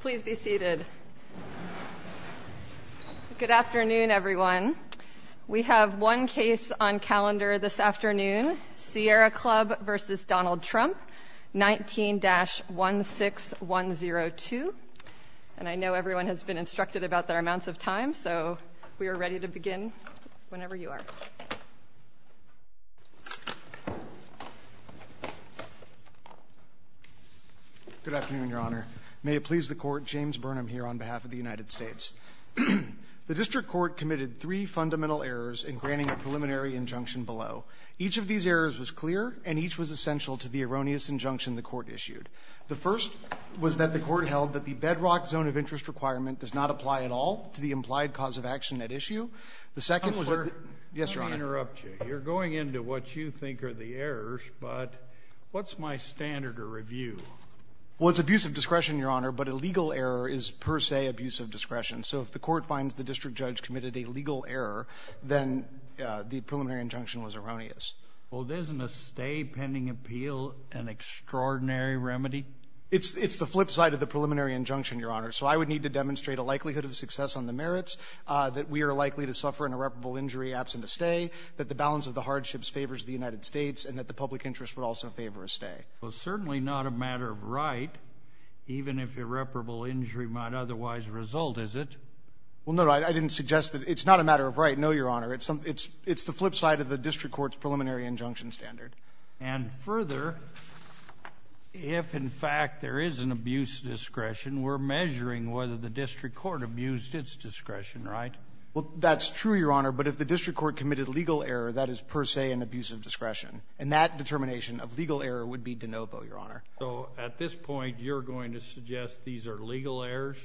Please be seated. Good afternoon everyone. We have one case on calendar this afternoon, Sierra Club v. Donald Trump 19-16102 and I know everyone has been instructed about their amounts of time so we are ready to begin whenever you like. Good afternoon, Your Honor. May it please the Court, James Burnham here on behalf of the United States. The District Court committed three fundamental errors in granting a preliminary injunction below. Each of these errors was clear and each was essential to the erroneous injunction the Court issued. The first was that the Court held that the bedrock zone of interest requirement does not apply at all to the implied cause of action at issue. The second was that... I'm sorry to interrupt you. You're going into what you think are the errors, but what's my standard of review? Well it's abuse of discretion, Your Honor, but a legal error is per se abuse of discretion. So if the Court finds the District Judge committed a legal error, then the preliminary injunction was erroneous. Well isn't a stay pending appeal an extraordinary remedy? It's the flip side of the preliminary injunction, Your Honor, so I would need to demonstrate a likely to suffer an irreparable injury absent a stay, that the balance of the hardships favors the United States, and that the public interest would also favor a stay. Well certainly not a matter of right, even if irreparable injury might otherwise result, is it? Well no, I didn't suggest that it's not a matter of right, no, Your Honor. It's the flip side of the District Court's preliminary injunction standard. And further, if in fact there is an abuse of discretion, we're That's true, Your Honor, but if the District Court committed legal error, that is per se an abuse of discretion, and that determination of legal error would be de novo, Your Honor. So at this point, you're going to suggest these are legal errors?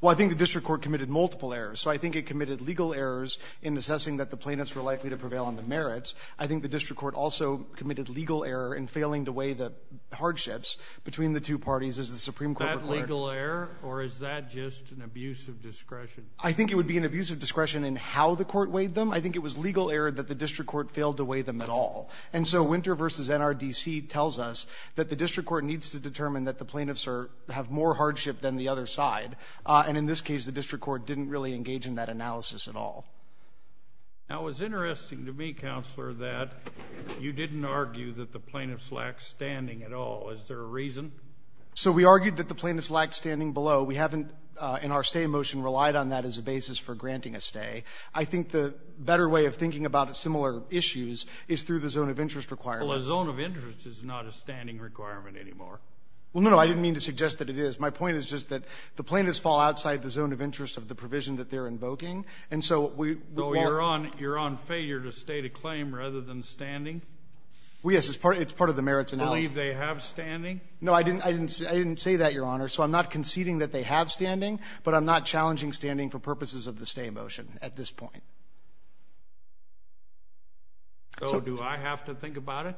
Well I think the District Court committed multiple errors, so I think it committed legal errors in assessing that the plaintiffs were likely to prevail on the merits. I think the District Court also committed legal error in failing to weigh the hardships between the two parties as the Supreme Court requires. Is that legal error, or is that just an abuse of discretion? I think it would be an abuse of discretion in how the court weighed them. I think it was legal error that the District Court failed to weigh them at all. And so Winter v. NRDC tells us that the District Court needs to determine that the plaintiffs have more hardship than the other side. And in this case, the District Court didn't really engage in that analysis at all. Now it was interesting to me, Counselor, that you didn't argue that the plaintiffs lacked standing at all. Is there a reason? So we argued that the plaintiffs have more hardship than the other side. I think the better way of thinking about similar issues is through the zone of interest requirement. Well a zone of interest is not a standing requirement anymore. Well no, I didn't mean to suggest that it is. My point is just that the plaintiffs fall outside the zone of interest of the provision that they're invoking, and so we... So you're on failure to state a claim rather than standing? Well yes, it's part of the merits analysis. Do you believe they have standing? No, I didn't say that, Your Honor. So I'm not conceding that they have standing, but I'm not challenging standing for purposes of the stay motion at this point. So do I have to think about it?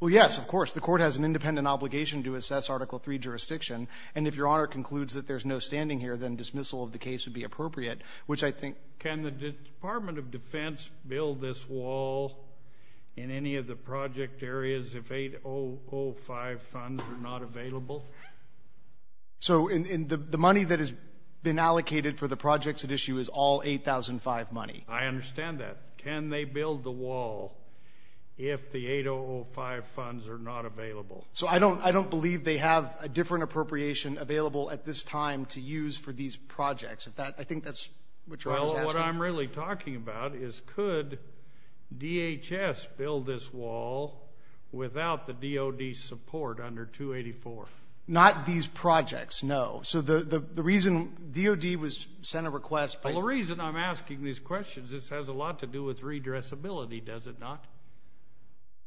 Well yes, of course. The Court has an independent obligation to assess Article III jurisdiction, and if Your Honor concludes that there's no standing here, then dismissal of the case would be appropriate, which I think... Can the Department of Defense build this wall in any of the project areas if the 8005 funds are not available? So the money that has been allocated for the projects at issue is all 8005 money? I understand that. Can they build the wall if the 8005 funds are not available? So I don't believe they have a different appropriation available at this time to use for these projects? I think that's what Your Honor is asking. What I'm really talking about is could DHS build this wall without the DOD's support under 284? Not these projects, no. So the reason DOD was sent a request by... The reason I'm asking these questions, this has a lot to do with redressability, does it not?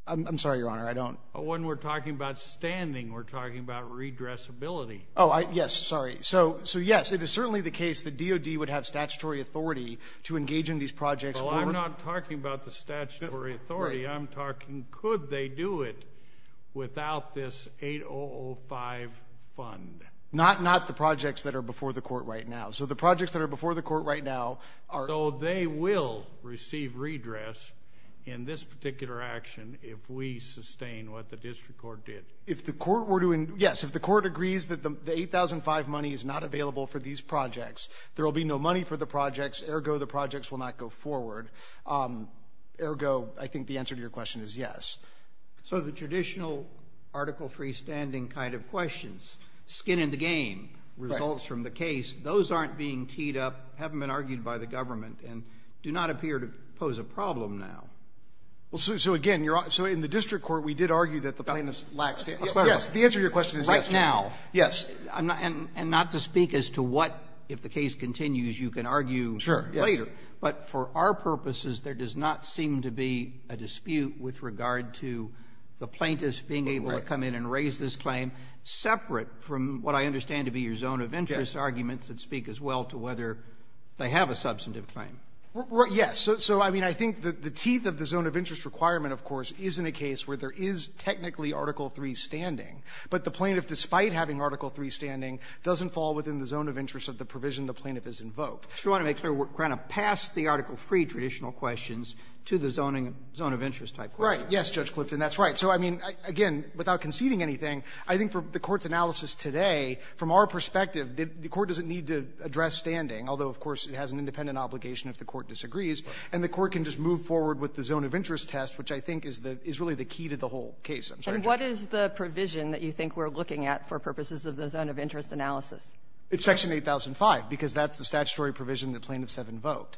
I'm sorry, Your Honor, I don't... When we're talking about standing, we're talking about redressability. Oh, yes, sorry. So yes, it is certainly the case that DOD would have statutory authority to engage in these projects... Well, I'm not talking about the statutory authority. I'm talking could they do it without this 8005 fund? Not the projects that are before the court right now. So the projects that are before the court right now are... So they will receive redress in this particular action if we sustain what the district court did? Yes, if the court agrees that the 8005 money is not available for these projects, there will be no money for the projects, ergo the projects will not go forward. Ergo, I think the answer to your question is yes. So the traditional Article III standing kind of questions, skin in the game, results from the case, those aren't being teed up, haven't been argued by the government, and do not appear to pose a problem now. So again, in the district court, we did argue that the plaintiff lacks... Yes, the answer to your question is yes. Right now, yes, and not to speak as to what, if the case continues, you can argue later, but for our purposes, there does not seem to be a dispute with regard to the plaintiff's being able to come in and raise this claim separate from what I understand to be your zone of interest arguments that speak as well to whether they have a substantive claim. Yes, so I mean, I think the teeth of the zone of interest requirement, of course, is in a case where there is technically Article III standing, but the plaintiff, despite having Article III standing, doesn't fall within the zone of interest of the provision the plaintiff has invoked. So you want to make sure we're kind of past the Article III traditional questions to the zone of interest type questions. Right, yes, Judge Clifton, that's right. So I mean, again, without conceding anything, I think for the court's analysis today, from our perspective, the court doesn't need to address standing, although, of course, it has an independent obligation if the court disagrees, and the court can just move forward with the zone of interest test, which I think is really the key to the whole case. And what is the provision that you think we're looking at for purposes of the zone of interest analysis? It's Section 8005, because that's the statutory provision the plaintiffs have invoked.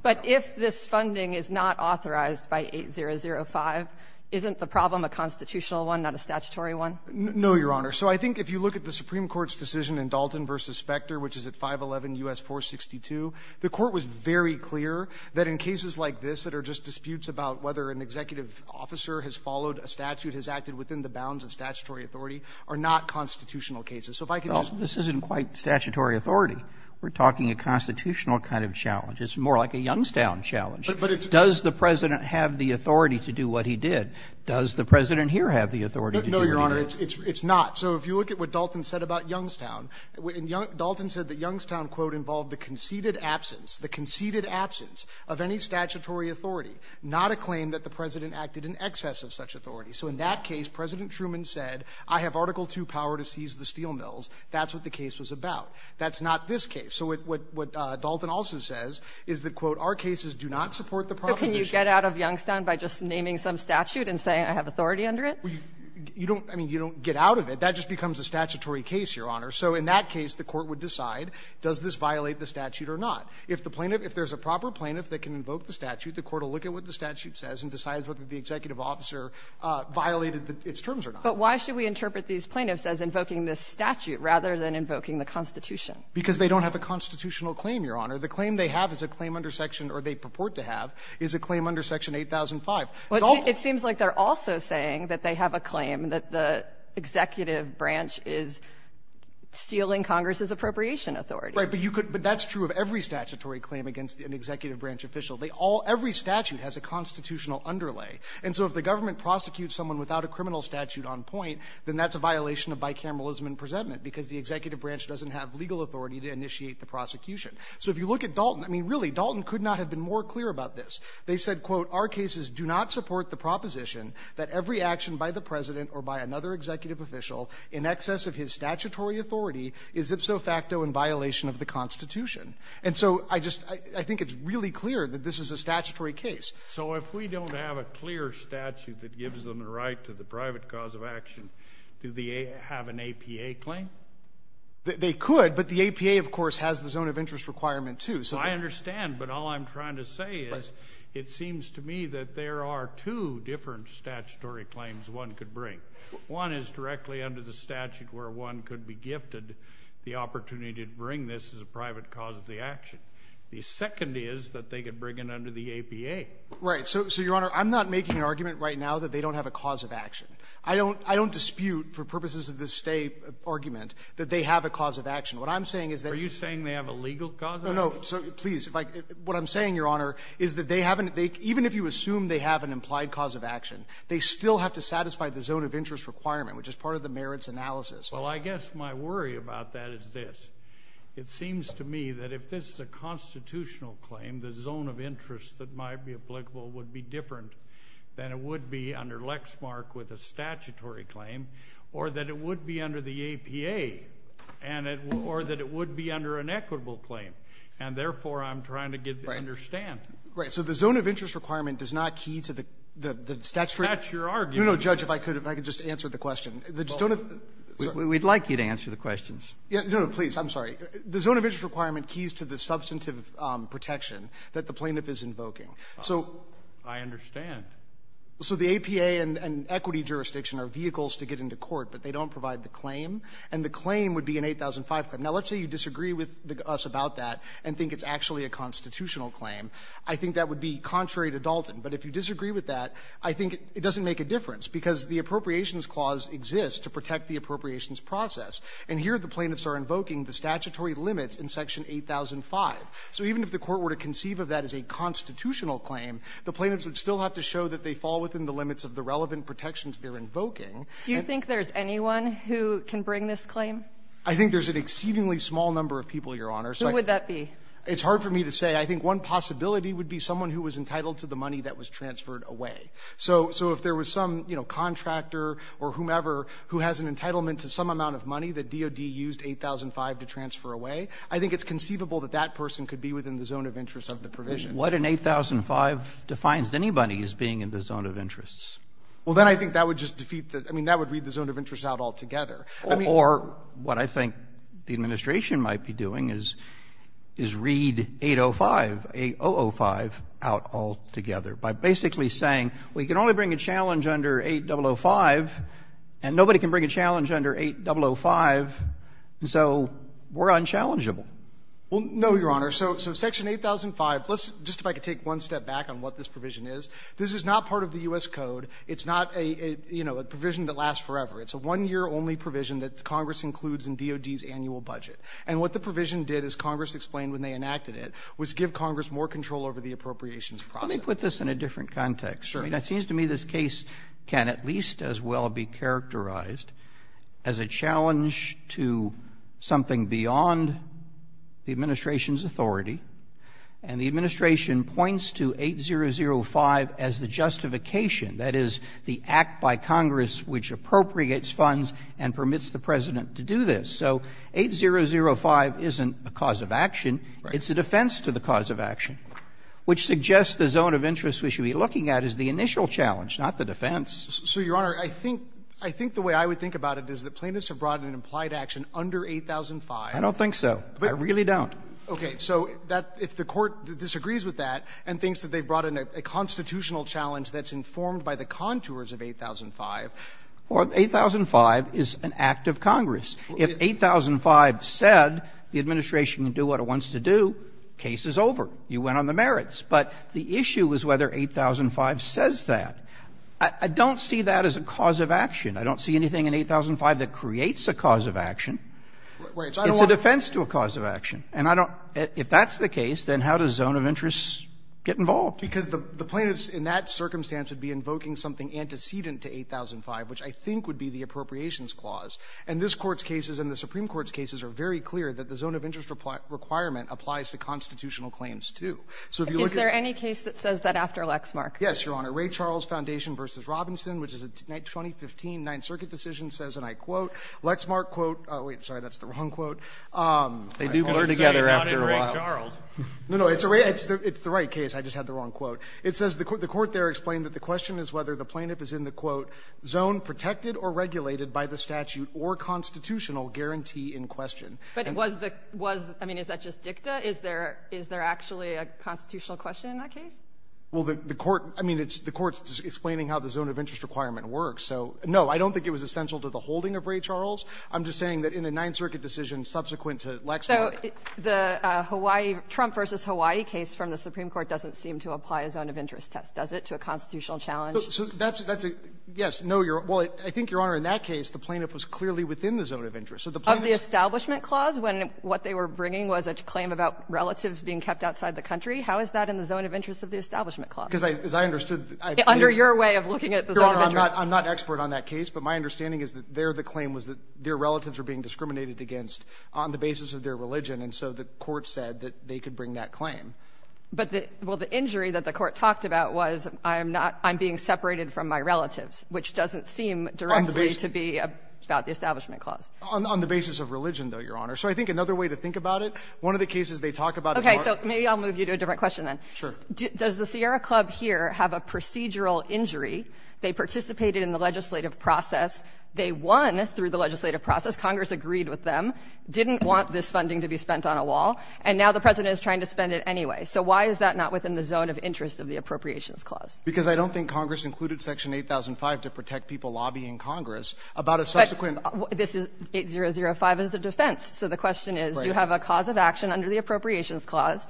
But if this funding is not authorized by 8005, isn't the problem a constitutional one, not a statutory one? No, Your Honor. So I think if you look at the Supreme Court's decision in Dalton v. Specter, which is at 511 U.S. 462, the court was very clear that in cases like this that are just disputes about whether an executive officer has followed a statute, has acted within the bounds of statutory authority, are not constitutional cases. So if I can just... Well, this isn't quite statutory authority. We're talking a constitutional kind of challenge. It's more like a Youngstown challenge. But it's... Does the President have the authority to do what he did? Does the President here have the authority to do that? No, Your Honor. It's not. So if you look at what Dalton said about Youngstown, Dalton said that Youngstown, quote, involved the conceded absence, the conceded absence of any statutory authority, not a claim that the President acted in excess of such authority. So in that case, President Truman said, I have Article II power to seize the steel mills. That's what the case was about. That's not this case. So what Dalton also says is that, quote, our cases do not support the proclamation... You don't... I mean, you don't get out of it. That just becomes a statutory case, Your Honor. So in that case, the court would decide, does this violate the statute or not? If the plaintiff... If there's a proper plaintiff that can invoke the statute, the court will look at what the statute says and decides whether the executive officer violated its terms or not. But why should we interpret these plaintiffs as invoking this statute rather than invoking the Constitution? Because they don't have a constitutional claim, Your Honor. The claim they have is a claim under Section... Or they purport to have is a claim under Section 8005. It seems like they're also saying that they have a claim that the executive branch is stealing Congress's appropriation authority. Right. But you could... But that's true of every statutory claim against an executive branch official. They all... Every statute has a constitutional underlay. And so if the government prosecutes someone without a criminal statute on point, then that's a violation of bicameralism and presentment because the executive branch doesn't have legal authority to initiate the prosecution. So if you look at Dalton, I mean, really, Dalton could not have been more clear about this. They said, quote, our cases do not support the proposition that every action by the president or by another executive official in excess of his statutory authority is ipso facto in violation of the Constitution. And so I just... I think it's really clear that this is a statutory case. So if we don't have a clear statute that gives them the right to the private cause of action, do they have an APA claim? They could, but the APA, of course, has the zone of interest requirement, too. I understand, but all I'm trying to say is it seems to me that there are two different statutory claims one could bring. One is directly under the statute where one could be gifted the opportunity to bring this as a private cause of the action. The second is that they could bring it under the APA. Right. So, Your Honor, I'm not making an argument right now that they don't have a cause of action. I don't dispute, for purposes of this state argument, that they have a cause of action. What I'm saying is that... Are you saying they have a legal cause of action? No, no. Please. What I'm saying, Your Honor, is that even if you assume they have an implied cause of action, they still have to satisfy the zone of interest requirement, which is part of the merits analysis. Well, I guess my worry about that is this. It seems to me that if this is a constitutional claim, the zone of interest that might be applicable would be different than it would be under Lexmark with a statutory claim or that it would be under the APA or that it would be under an equitable claim. And, therefore, I'm trying to get to understand. Right. So, the zone of interest requirement does not key to the... That's your argument. No, no, Judge, if I could, if I could just answer the question. We'd like you to answer the questions. No, no, please. I'm sorry. The zone of interest requirement keys to the substantive protection that the plaintiff is invoking. I understand. So, the APA and equity jurisdiction are vehicles to get into court, but they don't provide the claim. And the claim would be an 8005 claim. Now, let's say you disagree with us about that and think it's actually a constitutional claim. I think that would be contrary to Dalton. But if you disagree with that, I think it doesn't make a difference because the appropriations clause exists to protect the appropriations process. And here, the plaintiffs are invoking the statutory limits in Section 8005. So, even if the court were to conceive of that as a constitutional claim, the plaintiffs would still have to show that they fall within the limits of the relevant protections they're invoking. Do you think there's anyone who can bring this claim? I think there's an exceedingly small number of people, Your Honor. Who would that be? It's hard for me to say. I think one possibility would be someone who was entitled to the money that was transferred away. So, if there was some contractor or whomever who has an entitlement to some amount of money that DOD used 8005 to transfer away, I think it's conceivable that that person could be within the zone of interest of the provision. But what in 8005 defines anybody as being in the zone of interest? Well, then I think that would just defeat the, I mean, that would read the zone of interest out altogether. Or, what I think the administration might be doing is read 805, 8005 out altogether by basically saying, we can only bring a challenge under 8005, and nobody can bring a challenge under 8005, so we're unchallengeable. Well, no, Your Honor. So, section 8005, just if I could take one step back on what this provision is, this is not part of the U.S. Code. It's not a provision that lasts forever. It's a one-year only provision that Congress includes in DOD's annual budget. And what the provision did, as Congress explained when they enacted it, was give Congress more control over the appropriations process. Let me put this in a different context. Sure. I mean, it seems to me this case can at least as well be characterized as a challenge to something beyond the administration's authority, and the administration points to 8005 as the justification, that is, the act by Congress which appropriates funds and permits the President to do this. So, 8005 isn't the cause of action. It's a defense to the cause of action, which suggests the zone of interest we should be looking at is the initial challenge, not the defense. So, Your Honor, I think the way I would think about it is that plaintiffs have brought an implied action under 8005. I don't think so. I really don't. Okay. So, if the court disagrees with that and thinks that they've brought in a constitutional challenge that's informed by the contours of 8005... Well, 8005 is an act of Congress. If 8005 said the administration can do what it wants to do, case is over. You went on the merits. But the issue is whether 8005 says that. I don't see that as a cause of action. I don't see anything in 8005 that creates a cause of action. It's a defense to a cause of action. And I don't... If that's the case, then how does the zone of interest get involved? Because the plaintiffs in that circumstance would be invoking something antecedent to 8005, which I think would be the appropriations clause. And this Court's cases and the Supreme Court's cases are very clear that the zone of interest requirement applies to constitutional claims, too. Is there any case that says that after Lexmark? Yes, Your Honor. The Ray Charles Foundation v. Robinson, which is a 2015 Ninth Circuit decision, says, and I quote, Lexmark, quote... Oh, wait. Sorry, that's the wrong quote. They do blur together after a while. It came out in Ray Charles. No, no. It's the right case. I just had the wrong quote. It says, the Court there explained that the question is whether the plaintiff is in the, quote, zone protected or regulated by the statute or constitutional guarantee in question. But was the... I mean, is that just dicta? Is there actually a constitutional question in that case? Well, the Court, I mean, the Court's explaining how the zone of interest requirement works. So, no, I don't think it was essential to the holding of Ray Charles. I'm just saying that in the Ninth Circuit decision subsequent to Lexmark... So the Hawaii, Trump v. Hawaii case from the Supreme Court doesn't seem to apply a zone of interest test, does it, to a constitutional challenge? So that's, yes. No, Your Honor. Well, I think, Your Honor, in that case, the plaintiff was clearly within the zone of interest. Of the establishment clause when what they were bringing was a claim about relatives being kept outside the country? How is that in the zone of interest of the establishment clause? As I understood... Under your way of looking at... I'm not expert on that case, but my understanding is that there the claim was that their relatives were being discriminated against on the basis of their religion. And so the Court said that they could bring that claim. But the, well, the injury that the Court talked about was I'm not, I'm being separated from my relatives, which doesn't seem directly to be about the establishment clause. On the basis of religion, though, Your Honor. So I think another way to think about it, one of the cases they talk about... So maybe I'll move you to a different question then. Sure. Does the Sierra Club here have a procedural injury? They participated in the legislative process. They won through the legislative process. Congress agreed with them. Didn't want this funding to be spent on a wall. And now the President is trying to spend it anyway. So why is that not within the zone of interest of the appropriations clause? Because I don't think Congress included Section 8005 to protect people lobbying Congress about a subsequent... This is, 8005 is a defense. So the question is, do you have a cause of action under the appropriations clause?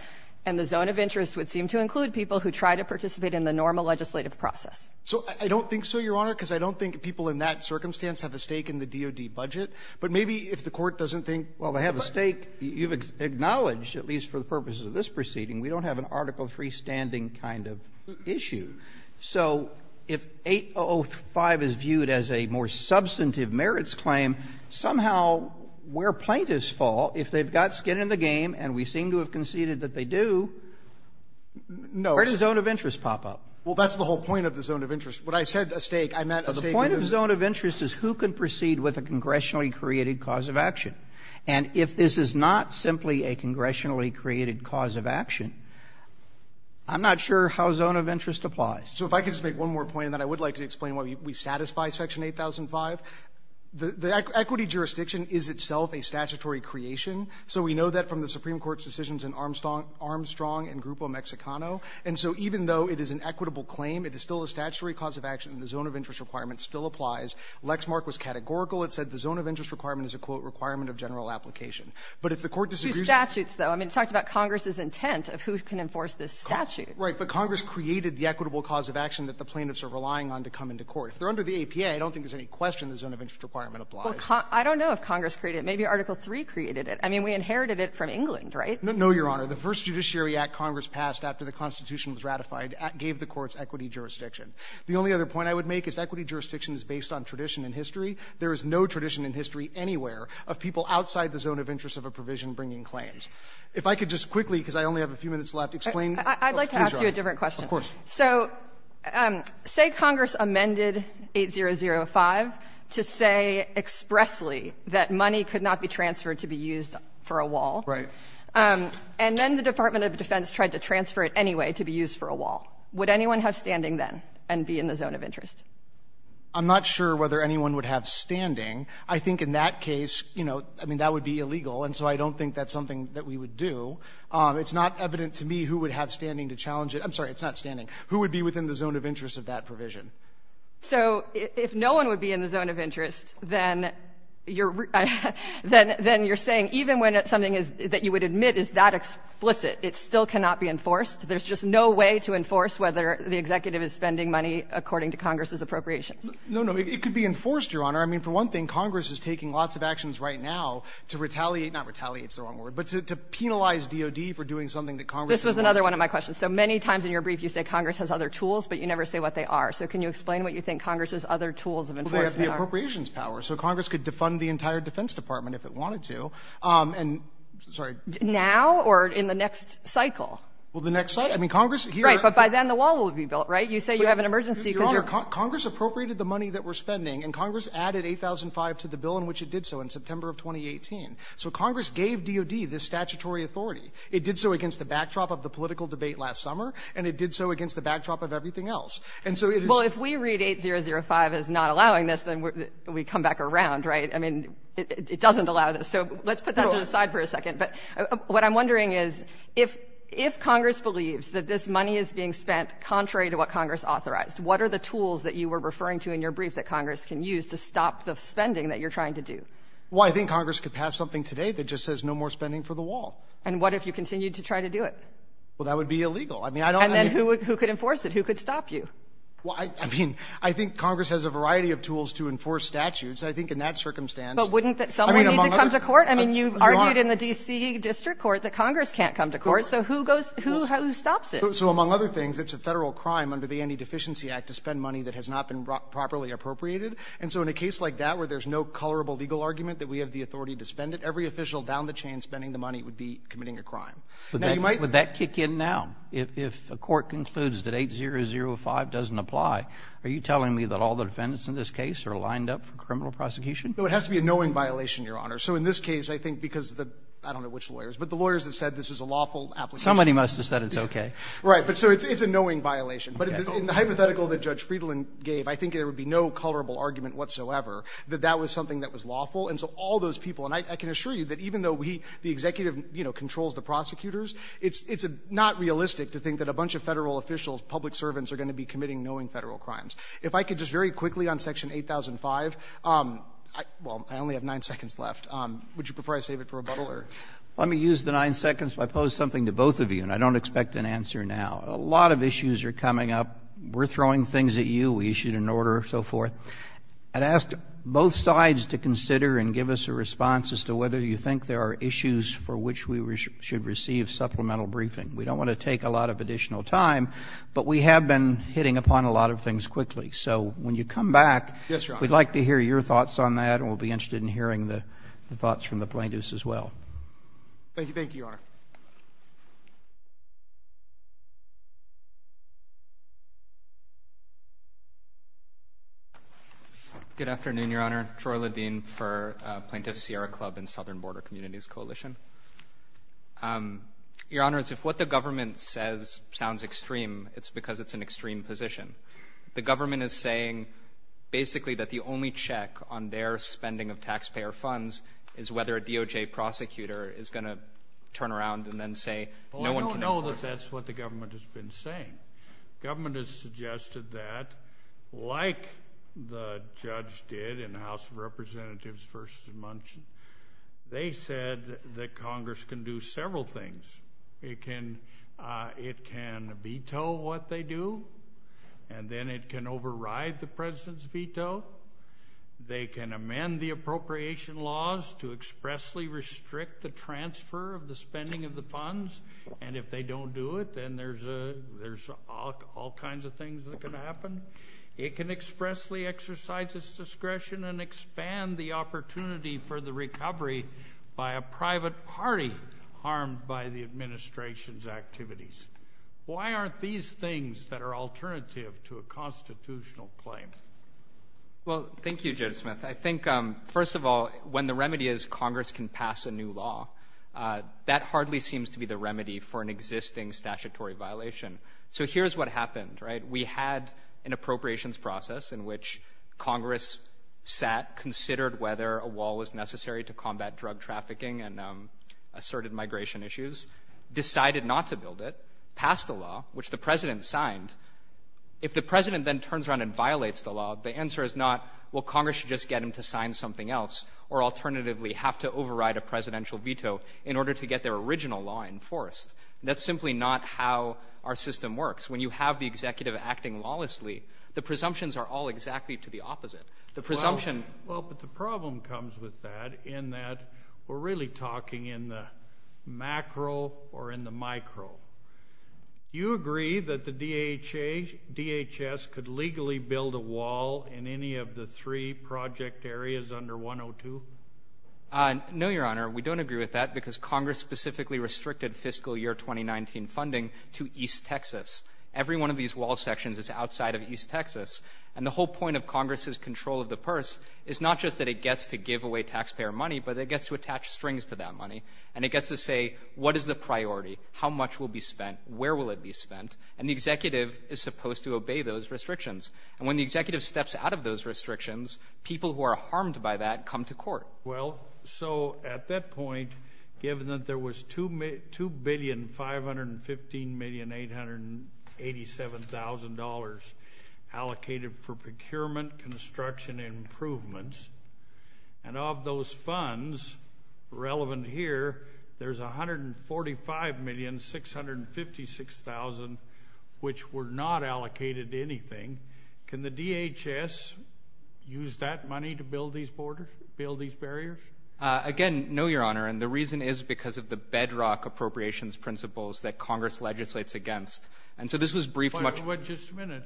And the zone of interest would seem to include people who try to participate in the normal legislative process. So I don't think so, Your Honor, because I don't think people in that circumstance have a stake in the DOD budget. But maybe if the Court doesn't think, well, I have a stake, you've acknowledged, at least for the purposes of this proceeding, we don't have an Article III standing kind of issue. So if 8005 is viewed as a more substantive merits claim, somehow where plaintiffs fall, if they've got skin in the game, and we seem to have conceded that they do, where does zone of interest pop up? Well, that's the whole point of the zone of interest. When I said a stake, I meant... The point of the zone of interest is who can proceed with a congressionally created cause of action. And if this is not simply a congressionally created cause of action, I'm not sure how it applies. So if I could just make one more point, and then I would like to explain why we satisfy Section 8005. The equity jurisdiction is itself a statutory creation. So we know that from the Supreme Court's decisions in Armstrong and Grupo Mexicano. And so even though it is an equitable claim, it is still a statutory cause of action, and the zone of interest requirement still applies. Lexmark was categorical. It said the zone of interest requirement is a, quote, requirement of general application. But if the Court disagrees... Through statutes, though. I mean, it talks about Congress's intent of who can enforce this statute. Right, but Congress created the equitable cause of action that the plaintiffs are relying on to come into court. If they're under the APA, I don't think there's any question the zone of interest requirement applies. Well, I don't know if Congress created it. Maybe Article III created it. I mean, we inherited it from England, right? No, Your Honor. The first Judiciary Act Congress passed after the Constitution was ratified gave the courts equity jurisdiction. The only other point I would make is equity jurisdiction is based on tradition and history. There is no tradition in history anywhere of people outside the zone of interest of a provision bringing claims. If I could just quickly, because I only have a few minutes left, explain... I'd like to ask you a different question. Of course. So say Congress amended 8005 to say expressly that money could not be transferred to be used for a wall. Right. And then the Department of Defense tried to transfer it anyway to be used for a wall. Would anyone have standing then and be in the zone of interest? I'm not sure whether anyone would have standing. I think in that case, you know, I mean, that would be illegal. And so I don't think that's something that we would do. It's not evident to me who would have standing to challenge it. I'm sorry. It's not standing. Who would be within the zone of interest of that provision? So if no one would be in the zone of interest, then you're saying even when it's something that you would admit is that explicit, it still cannot be enforced? There's just no way to enforce whether the executive is spending money according to Congress's appropriation? No, no. It could be enforced, Your Honor. I mean, for one thing, Congress is taking lots of actions right now to retaliate... This is another one of my questions. So many times in your brief, you say Congress has other tools, but you never say what they are. So can you explain what you think Congress's other tools of enforcing are? Well, they have the appropriations power. So Congress could defund the entire Defense Department if it wanted to and... Sorry. Now or in the next cycle? Well, the next cycle? I mean, Congress... Right. But by then, the wall will be built, right? You say you have an emergency... Your Honor, Congress appropriated the money that we're spending and Congress added 8,005 to the bill in which it did so in September of 2018. So Congress gave DOD this statutory authority. It did so against the backdrop of the political debate last summer and it did so against the backdrop of everything else. And so... Well, if we read 8,005 as not allowing this, then we come back around, right? I mean, it doesn't allow this. So let's put that to the side for a second. But what I'm wondering is if Congress believes that this money is being spent contrary to what Congress authorized, what are the tools that you were referring to in your brief that Congress can use to stop the spending that you're trying to do? Well, I think Congress could pass something today that just says no more spending for the wall. And what if you continue to try to do it? Well, that would be illegal. I mean, I don't... And then who could enforce it? Who could stop you? Well, I mean, I think Congress has a variety of tools to enforce statutes. I think in that circumstance... But wouldn't someone need to come to court? I mean, you've argued in the D.C. District Court that Congress can't come to court. So who goes... Who stops it? So among other things, it's a federal crime under the Anti-Deficiency Act to spend money that has not been properly appropriated. And so in a case like that where there's no colorable legal argument that we have the authority to spend it, every official down the chain spending the money would be committing a crime. Now, you might... Would that kick in now? If the court concludes that 8005 doesn't apply, are you telling me that all the defendants in this case are lined up for criminal prosecution? So it has to be a knowing violation, Your Honor. So in this case, I think because the... I don't know which lawyers, but the lawyers have said this is a lawful application. Somebody must have said it's okay. Right. But so it's a knowing violation. But in the hypothetical that Judge Friedland gave, I think there would be no colorable argument whatsoever that that was something that was lawful. And so all those people... And I can assure you that even though the executive, you know, controls the prosecutors, it's not realistic to think that a bunch of federal officials, public servants, are going to be committing knowing federal crimes. If I could just very quickly on Section 8005... Well, I only have nine seconds left. Would you prefer I save it for rebuttal or... Let me use the nine seconds if I pose something to both of you, and I don't expect an answer now. A lot of issues are coming up. We're throwing things at you. We issued an order and so forth. I'd ask both sides to consider and give us a response as to whether you think there are issues for which we should receive supplemental briefing. We don't want to take a lot of additional time, but we have been hitting upon a lot of things quickly. So when you come back, we'd like to hear your thoughts on that, and we'll be interested in hearing the thoughts from the plaintiffs as well. Thank you, Your Honor. Good afternoon, Your Honor. Troy Ledeen for Plaintiff's Sierra Club and Southern Border Communities Coalition. Your Honor, if what the government says sounds extreme, it's because it's an extreme position. The government is saying basically that the only check on their spending of taxpayer funds is whether a DOJ prosecutor is going to turn around and then say no one can... I know that that's what the government has been saying. The government has suggested that, like the judge did in the House of Representatives' first mention, they said that Congress can do several things. It can veto what they do, and then it can override the president's veto. They can amend the appropriation laws to expressly restrict the transfer of the spending of the If they don't do it, then there's all kinds of things that can happen. It can expressly exercise its discretion and expand the opportunity for the recovery by a private party harmed by the administration's activities. Why aren't these things that are alternative to a constitutional claim? Well, thank you, Judge Smith. I think, first of all, when the remedy is Congress can pass a new law, that hardly seems to be the remedy for an existing statutory violation. So here's what happened. We had an appropriations process in which Congress sat, considered whether a wall was necessary to combat drug trafficking and asserted migration issues, decided not to build it, passed a law, which the president signed. If the president then turns around and violates the law, the answer is not, well, Congress should just get him to sign something else, or alternatively have to override a presidential veto in order to get their original law enforced. That's simply not how our system works. When you have the executive acting lawlessly, the presumptions are all exactly to the opposite. The presumption... Well, but the problem comes with that in that we're really talking in the macro or in the micro. Do you agree that the DHS could legally build a wall in any of the three project areas under 102? No, Your Honor. We don't agree with that because Congress specifically restricted fiscal year 2019 funding to East Texas. Every one of these wall sections is outside of East Texas, and the whole point of Congress's control of the purse is not just that it gets to give away taxpayer money, but it gets to attach strings to that money, and it gets to say, what is the priority? How much will be spent? Where will it be spent? And the executive is supposed to obey those restrictions. And when the executive steps out of those restrictions, people who are harmed by that come to court. Well, so at that point, given that there was $2,515,887,000 allocated for procurement, construction, and improvements, and of those funds relevant here, there's $145,656,000 which were not allocated to anything. Can the DHS use that money to build these borders, build these barriers? Again, no, Your Honor, and the reason is because of the bedrock appropriations principles that Congress legislates against. And so this was briefly... Just a minute.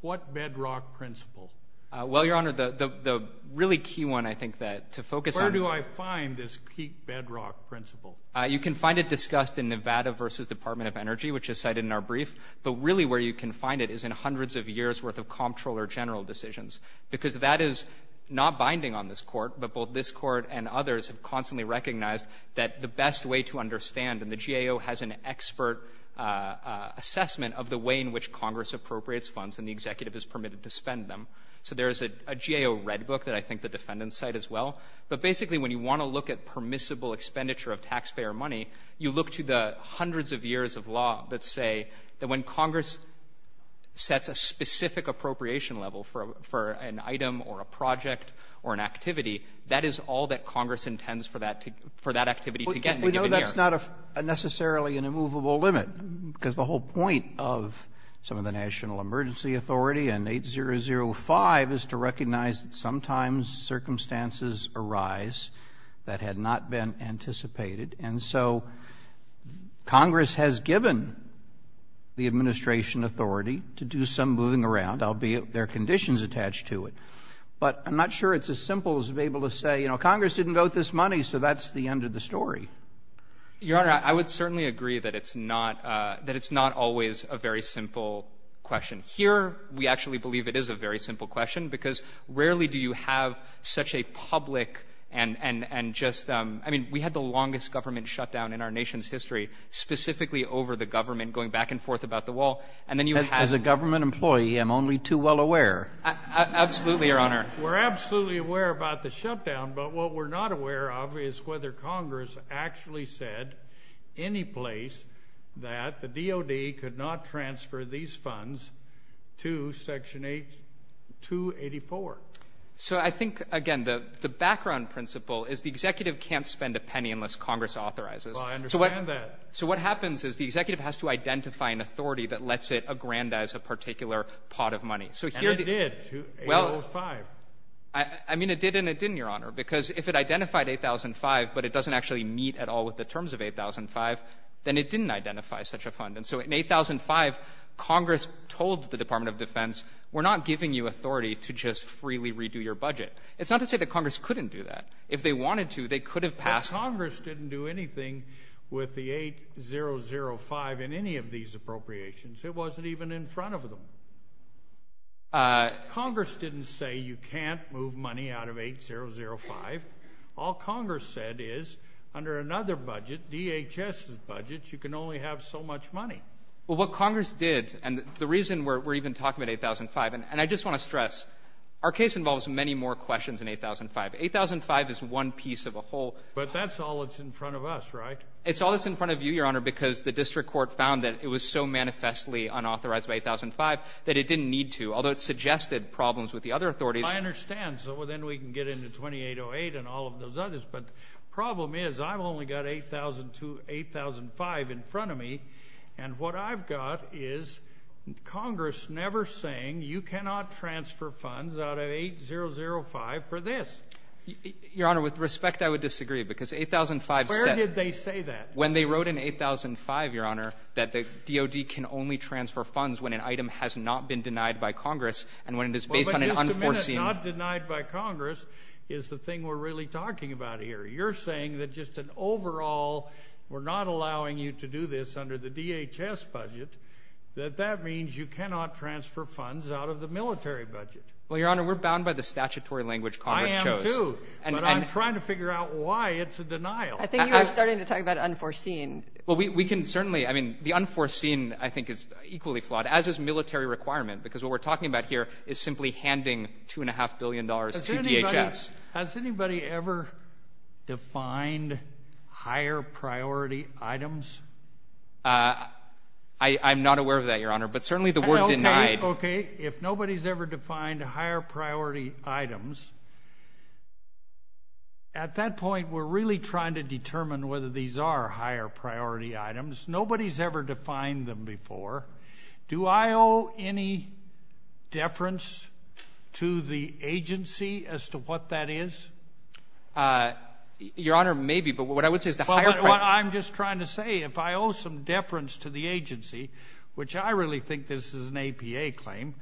What bedrock principle? Well, Your Honor, the really key one, I think, to focus on... Where do I find this key bedrock principle? You can find it discussed in Nevada v. Department of Energy, which is cited in our brief. But really where you can find it is in hundreds of years' worth of comptroller general decisions. Because that is not binding on this court, but both this court and others have constantly recognized that the best way to understand, and the GAO has an expert assessment of the way in which Congress appropriates funds and the executive is permitted to spend them. So there is a GAO red book that I think the defendants cite as well. But basically, when you want to look at permissible expenditure of taxpayer money, you look to the hundreds of years of law that say that when Congress sets a specific appropriation level for an item or a project or an activity, that is all that Congress intends for that activity to get. We know that's not necessarily an immovable limit, because the whole point of some of the National Emergency Authority and 8005 is to recognize that sometimes circumstances arise that had not been anticipated. And so Congress has given the administration authority to do some moving around, albeit there are conditions attached to it. But I'm not sure it's as simple as being able to say, you know, Congress didn't vote this money, so that's the end of the story. Your Honor, I would certainly agree that it's not always a very simple question. Here, we actually believe it is a very simple question, because rarely do you have such a public and just, I mean, we had the longest government shutdown in our nation's history, specifically over the government, going back and forth about the wall. As a government employee, I'm only too well aware. Absolutely, Your Honor. We're absolutely aware about the shutdown, but what we're not aware of is whether Congress actually said any place that the DOD could not transfer these funds to Section 284. So I think, again, the background principle is the executive can't spend a penny unless Congress authorizes it. Well, I understand that. So what happens is the executive has to identify an authority that lets it aggrandize a particular pot of money. And it did, 8005. I mean, it did and it didn't, Your Honor, because if it identified 8005, but it doesn't actually meet at all with the terms of 8005, then it didn't identify such a fund. And so in 8005, Congress told the Department of Defense, we're not giving you authority to just freely redo your budget. It's not to say that Congress couldn't do that. If they wanted to, they could have passed... But Congress didn't do anything with the 8005 in any of these appropriations. It wasn't even in front of them. Congress didn't say you can't move money out of 8005. All Congress said is under another budget, DHS's budget, you can only have so much money. Well, what Congress did, and the reason we're even talking about 8005, and I just want to Our case involves many more questions than 8005. 8005 is one piece of a whole. But that's all that's in front of us, right? It's all that's in front of you, Your Honor, because the district court found that it was so manifestly unauthorized by 8005 that it didn't need to, although it suggested problems with the other authorities. I understand. So then we can get into 2808 and all of those others. But the problem is I've only got 8002, 8005 in front of me. And what I've got is Congress never saying you cannot transfer funds out of 8005 for this. Your Honor, with respect, I would disagree because 8005 said Where did they say that? When they wrote in 8005, Your Honor, that the DOD can only transfer funds when an item has not been denied by Congress and when it is based on an unforeseen Well, but just the minute not denied by Congress is the thing we're really talking about here. You're saying that just an overall, we're not allowing you to do this under the DHS budget, that that means you cannot transfer funds out of the military budget. Well, Your Honor, we're bound by the statutory language Congress chose. I am too, but I'm trying to figure out why it's a denial. I think you are starting to talk about unforeseen. Well, we can certainly, I mean, the unforeseen I think is equally flawed, as is military requirement because what we're talking about here is simply handing $2.5 billion to DHS. Has anybody ever defined higher priority items? I'm not aware of that, Your Honor, but certainly the word denied Okay, if nobody's ever defined higher priority items, at that point we're really trying to determine whether these are higher priority items. Nobody's ever defined them before. Do I owe any deference to the agency as to what that is? Your Honor, maybe, but what I would say is the higher priority... Well, I'm just trying to say if I owe some deference to the agency, which I really think this is an APA claim,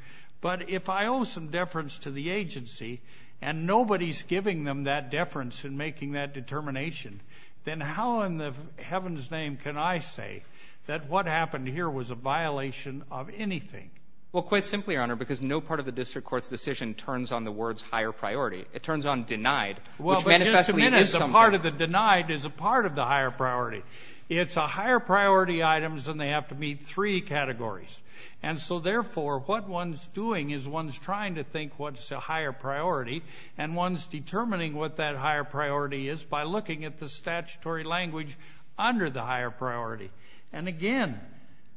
but if I owe some deference to the agency, and nobody's giving them that deference in making that determination, then how in heaven's name can I say that what happened here was a violation of anything? Well, quite simply, Your Honor, because no part of the district court's decision turns on the words higher priority. It turns on denied, which manifestly is discomfort. Well, but the denied is a part of the higher priority. It's a higher priority items and they have to meet three categories. And so, therefore, what one's doing is one's trying to think what's a higher priority and one's determining what that higher priority is by looking at the statutory language under the higher priority. And again,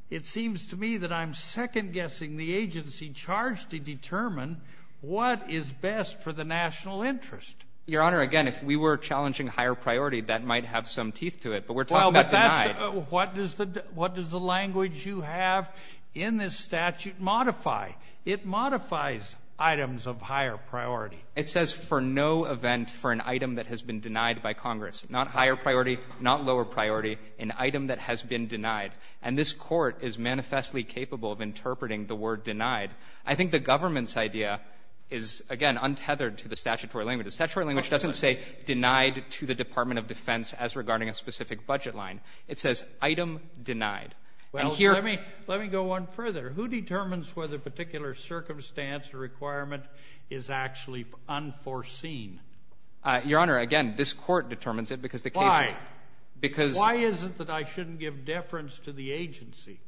it seems to me that I'm second-guessing the agency charged to determine what is best for the national interest. Your Honor, again, if we were challenging higher priority, that might have some teeth to it, but we're talking about denied. What does the language you have in this statute modify? It modifies items of higher priority. It says for no event for an item that has been denied by Congress. Not higher priority, not lower priority, an item that has been denied. And this court is manifestly capable of interpreting the word denied. I think the government's idea is, again, untethered to the statutory language. The statutory language doesn't say denied to the Department of Defense as regarding a specific budget line. It says item denied. Well, let me go on further. Who determines whether a particular circumstance or requirement is actually unforeseen? Your Honor, again, this court determines it because the case... Why? Why is it that I shouldn't give deference to the agency?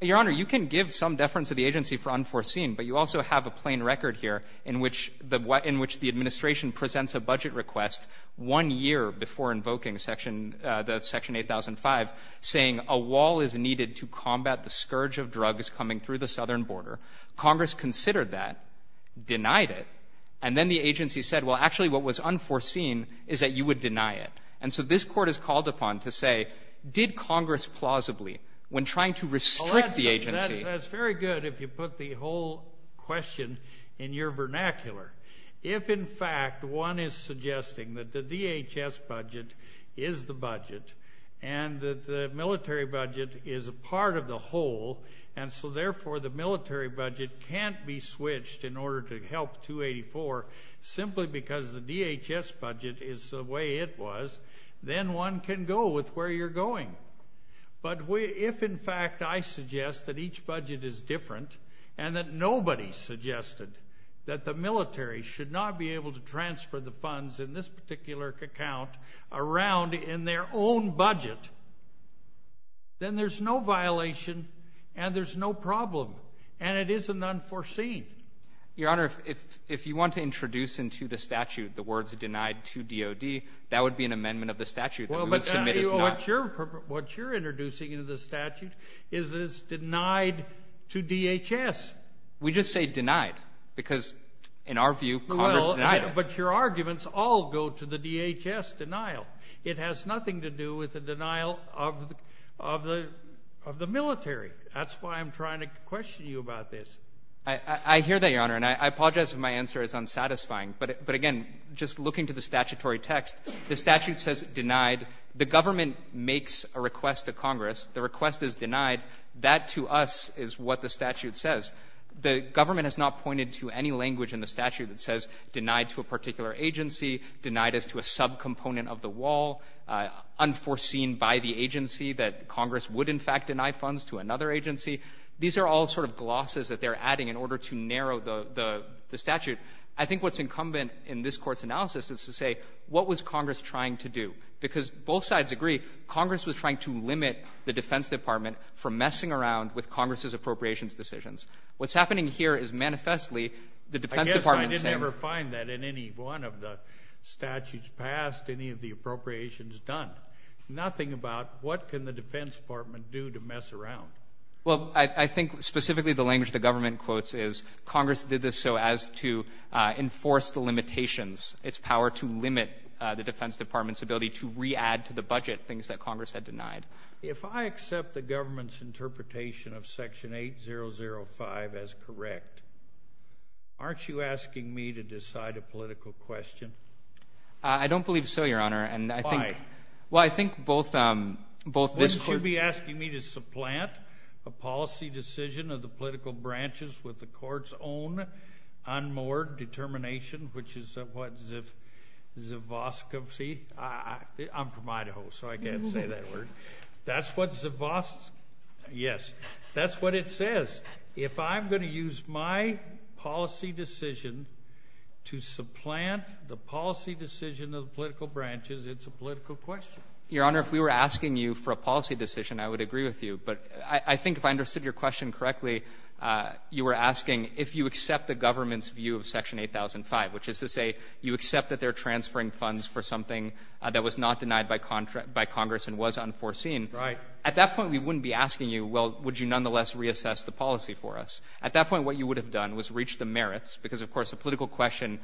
Your Honor, you can give some deference to the agency for unforeseen, but you also have a plain record here in which the administration presents a budget request one year before invoking Section 8005 saying a wall is needed to combat the scourge of drugs coming through the southern border. Congress considered that, denied it, and then the agency said, well, actually what was unforeseen is that you would deny it. And so this court is called upon to say, did Congress plausibly, when trying to restrict the agency... That's very good if you put the whole question in your vernacular. If, in fact, one is suggesting that the DHS budget is the budget and that the military budget is a part of the whole and so therefore the military budget can't be switched in order to help 284 simply because the DHS budget is the way it was, then one can go with where you're going. But if, in fact, I suggest that each budget is different and that nobody suggested that the military should not be able to transfer the funds in this particular account around in their own budget, then there's no violation and there's no problem and it isn't unforeseen. Your Honor, if you want to introduce into the statute the words denied to DOD, that would be an amendment of the statute. What you're introducing into the statute is that it's denied to DHS. We just say denied because, in our view, Congress denied it. But your arguments all go to the DHS denial. It has nothing to do with the denial of the military. That's why I'm trying to question you about this. I hear that, Your Honor, and I apologize if my answer is unsatisfying. But again, just looking to the statutory text, the statute says denied. The government makes a request to Congress. The request is denied. That, to us, is what the statute says. The government has not pointed to any language in the statute that says denied to a particular agency, denied as to a subcomponent of the wall, unforeseen by the agency that Congress would, in fact, deny funds to another agency. These are all sort of glosses that they're adding in order to narrow the statute. I think what's incumbent in this Court's analysis is to say, what was Congress trying to do? Because both sides agree, Congress was trying to limit the Defense Department from messing around with Congress's appropriations decisions. What's happening here is, manifestly, I guess I never find that in any one of the statutes passed, any of the appropriations done. Nothing about what can the Defense Department do to mess around. Well, I think specifically the language the government quotes is Congress did this so as to enforce the limitations, its power to limit the Defense Department's ability to re-add to the budget things that Congress had denied. If I accept the government's interpretation of Section 8005 as correct, aren't you asking me to decide a political question? I don't believe so, Your Honor. Why? Well, I think both this Court... Wouldn't you be asking me to supplant a policy decision of the political branches with the Court's own unmoored determination, which is what, zivoscopy? I'm from Idaho, so I can't say that word. That's what zivos... Yes, that's what it says. If I'm going to use my policy decision to supplant the policy decision of the political branches, it's a political question. Your Honor, if we were asking you for a policy decision, I would agree with you, but I think if I understood your question correctly, you were asking if you accept the government's view of Section 8005, which is to say you accept that they're transferring funds for something that was not denied by Congress and was unforeseen. Right. At that point, we wouldn't be asking you, well, would you nonetheless reassess the policy for us? At that point, what you would have done was reach the merits, because, of course, the political question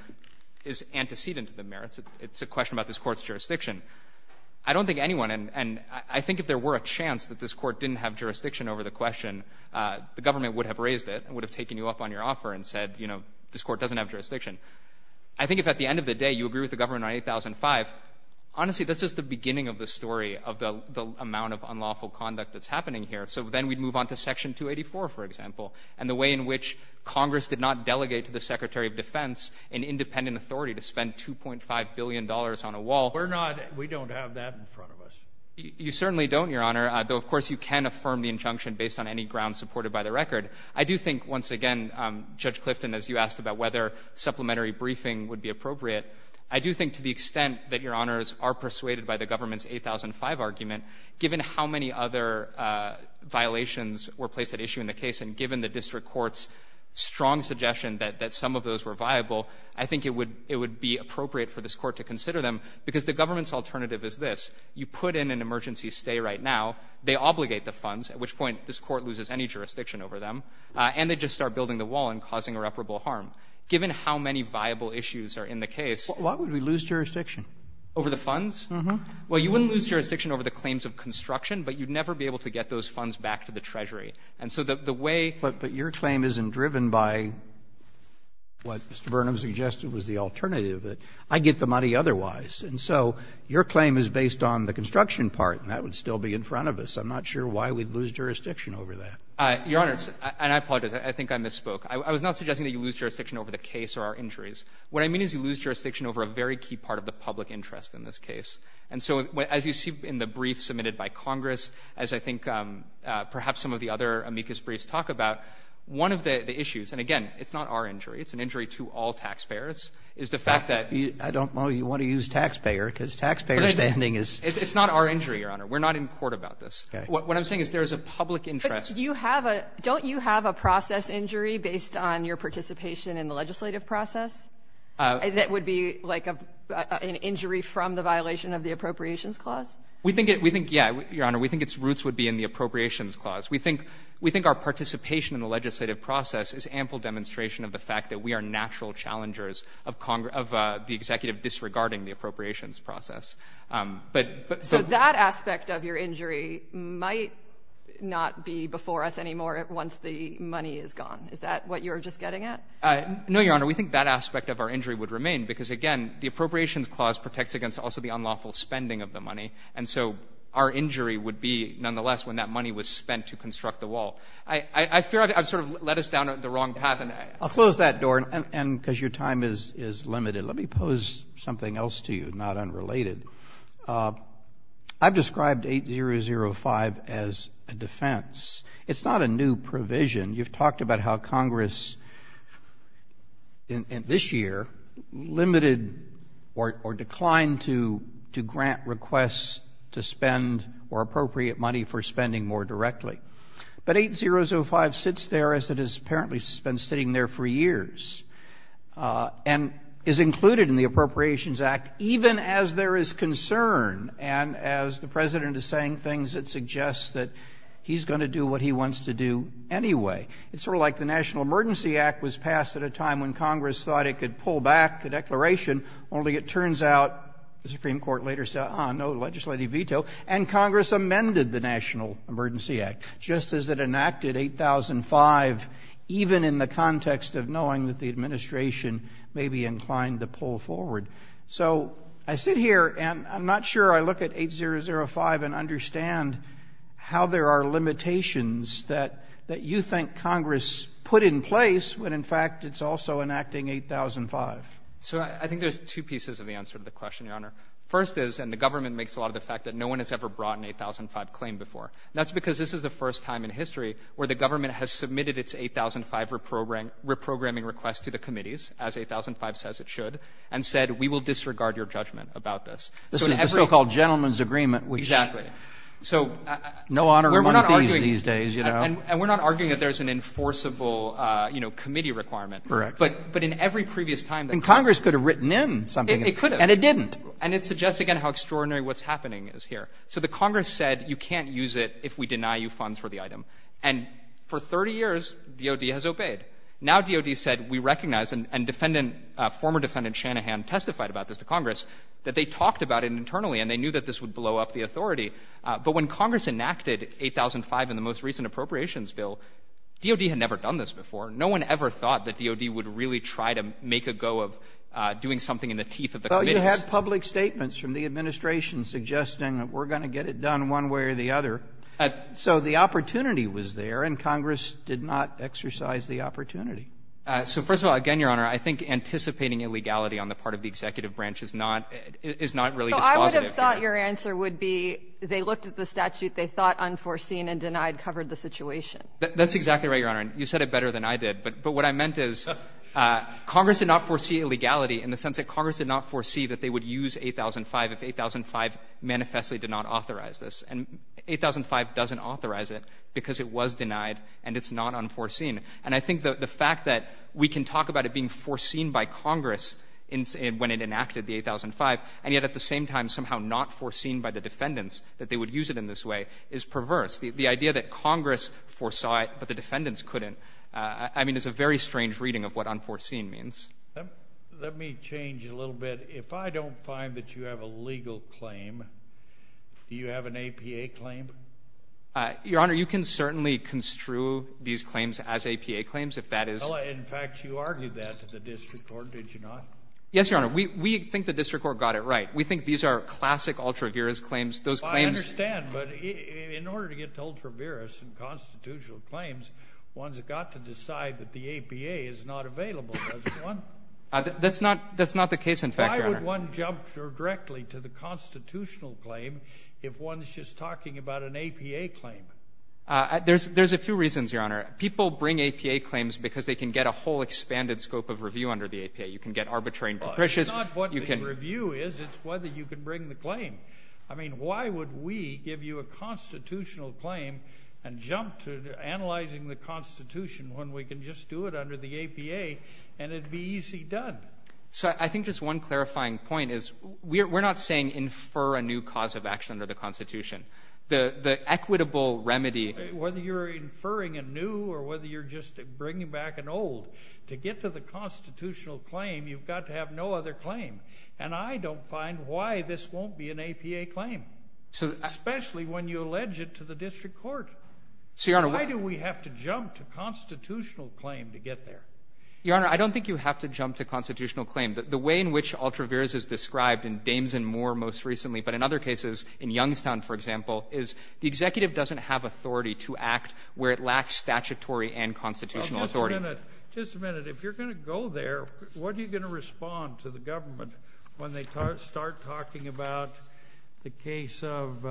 is antecedent to the merits. It's a question about this Court's jurisdiction. I don't think anyone... And I think if there were a chance that this Court didn't have jurisdiction over the question, the government would have raised it and would have taken you up on your offer and said, you know, this Court doesn't have jurisdiction. I think if at the end of the day you agree with the government on 8005, honestly, this is the beginning of the story of the amount of unlawful conduct that's happening here. So then we'd move on to Section 284, for example, and the way in which Congress did not delegate to the Secretary of Defense an independent authority to spend $2.5 billion on a wall. We're not... We don't have that in front of us. You certainly don't, Your Honor, though, of course, you can affirm the injunction based on any grounds supported by the record. I do think, once again, Judge Clifton, as you asked about whether supplementary briefing would be appropriate, I do think to the extent that Your Honors are persuaded by the government's 8005 argument, given how many other violations were placed at issue in the case and given the district court's strong suggestion that some of those were viable, I think it would be appropriate for this court to consider them because the government's alternative is this. You put in an emergency stay right now, they obligate the funds, at which point this court loses any jurisdiction over them, and they just start building the wall and causing irreparable harm. Given how many viable issues are in the case... Why would we lose jurisdiction? Over the funds? Well, you wouldn't lose jurisdiction over the claims of construction, but you'd never be able to get those funds back to the Treasury, and so the way... But your claim isn't driven by what Mr. Burnham suggested was the alternative. I'd get the money otherwise, and so your claim is based on the construction part, and that would still be in front of us. I'm not sure why we'd lose jurisdiction over that. Your Honor, and I apologize. I think I misspoke. I was not suggesting that you lose jurisdiction over the case or our injuries. What I mean is you lose jurisdiction over a very key part of the public interest in this case, and so as you see in the brief submitted by Congress, as I think perhaps some of the other amicus briefs talk about, one of the issues, and again, it's not our injury, it's an injury to all taxpayers, is the fact that... I don't know you want to use taxpayer because taxpayer spending is... It's not our injury, Your Honor. We're not in court about this. What I'm saying is there's a public interest... Don't you have a process injury based on your participation in the legislative process that would be like an injury from the violation of the Appropriations Clause? Yeah, Your Honor, we think its roots would be in the Appropriations Clause. We think our participation in the legislative process is ample demonstration of the fact that we are natural challengers of the executive disregarding the appropriations process. So that aspect of your injury might not be before us anymore once the money is gone. Is that what you're just getting at? No, Your Honor, we think that aspect of our injury would remain because, again, the Appropriations Clause protects against also the unlawful spending of the money and so our injury would be nonetheless when that money was spent to construct the wall. I've sort of led us down the wrong path. I'll close that door because your time is limited. Let me pose something else to you, not unrelated. I've described 8005 as a defense. It's not a new provision. You've talked about how Congress in this year limited or declined to grant requests to spend or appropriate money for spending more directly. But 8005 sits there as it has apparently been sitting there for years and is included in the Appropriations Act even as there is concern and as the President is saying things that suggest that he's going to do what he wants to do anyway. It's sort of like the National Emergency Act was passed at a time when Congress thought it could pull back the declaration, only it turns out the Supreme Court later said, ah, no legislative veto and Congress amended the National Emergency Act in 8005 even in the context of knowing that the administration may be inclined to pull forward. So I sit here and I'm not sure I look at 8005 and understand how there are limitations that you think Congress put in place when in fact it's also enacting 8005. So I think there's two pieces of the answer to the question, Your Honor. First is, and the government makes a lot of the fact that no one has ever brought an 8005 claim before. That's because this is the first time in history where the government has submitted its 8005 reprogramming request to the committees, as 8005 says it should, and said, we will disregard your judgment about this. This is the so-called gentleman's agreement. Exactly. And we're not arguing that there's an enforceable committee requirement. But in every previous time... And Congress could have written in something. And it didn't. And it suggests again how extraordinary what's happening is here. So the Congress said, you can't use it if we deny you funds for the item. And for 30 years, DOD has obeyed. Now DOD said, we recognize, and former defendant Shanahan testified about this to Congress, that they talked about it internally and they knew that this would blow up the authority. But when Congress enacted 8005 in the most recent appropriations bill, DOD had never done this before. No one ever thought that DOD would really try to make a go of doing something in the teeth of the committee. You had public statements from the administration suggesting that we're going to get it done one way or the other. So the opportunity was there, and Congress did not exercise the opportunity. So first of all, again, Your Honor, I think anticipating illegality on the part of the executive branch is not really... So I would have thought your answer would be they looked at the statute, they thought unforeseen and denied covered the situation. That's exactly right, Your Honor. You said it better than I did. But what I meant is, Congress did not foresee illegality in the sense that Congress did not foresee that they would use 8005 if 8005 manifestly did not authorize this. And 8005 doesn't authorize it because it was denied and it's not unforeseen. And I think the fact that we can talk about it being foreseen by Congress when it enacted the 8005, and yet at the same time somehow not foreseen by the defendants that they would use it in this way, is perverse. The idea that Congress foresaw it but the defendants couldn't, I mean, is a very strange reading of what unforeseen means. Let me change a little bit. If I don't find that you have a legal claim, do you have an APA claim? Your Honor, you can certainly construe these claims as APA claims if that is... In fact, you argued that at the district court, did you not? Yes, Your Honor. We think the district court got it right. We think these are classic ultra-virus claims. I understand, but in order to get to ultra-virus and constitutional claims, one's got to decide that the APA is not available, doesn't one? That's not the case, in fact, Your Honor. Why would one jump directly to the constitutional claim if one's just talking about an APA claim? There's a few reasons, Your Honor. People bring APA claims because they can get a whole expanded scope of review under the APA. You can get arbitrary... It's not what the review is. It's whether you can bring the claim. Why would we give you a constitutional claim and jump to analyzing the Constitution when we can just do it under the APA and it'd be easy done? I think just one clarifying point is we're not saying infer a new cause of action under the Constitution. The equitable remedy... Whether you're inferring a new or whether you're just bringing back an old, to get to the constitutional claim you've got to have no other claim. And I don't find why this won't be an APA claim. Especially when you allege it to the district court. Why do we have to jump to constitutional claim to get there? Your Honor, I don't think you have to jump to constitutional claim. The way in which Altraverse is described in Dames and Moore most recently, but in other cases, in Youngstown, for example, is the executive doesn't have authority to act where it lacks statutory and constitutional authority. Just a minute. If you're going to go there, what are you going to respond to the government when they start talking about the case of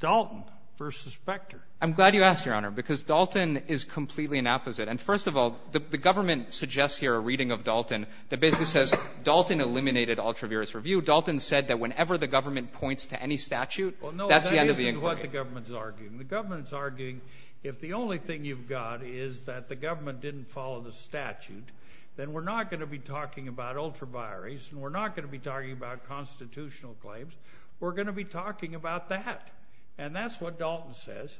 Dalton versus Specter? I'm glad you asked, Your Honor. Because Dalton is completely an opposite. And first of all, the government suggests here a reading of Dalton that basically says Dalton eliminated Altraverse review. Dalton said that whenever the government points to any statute, that's the end of the inquiry. That's exactly what the government is arguing. The government is arguing if the only thing you've got is that the government didn't follow the statute, then we're not going to be talking about Altraverse. We're not going to be talking about constitutional claims. We're going to be talking about that. And that's what Dalton says.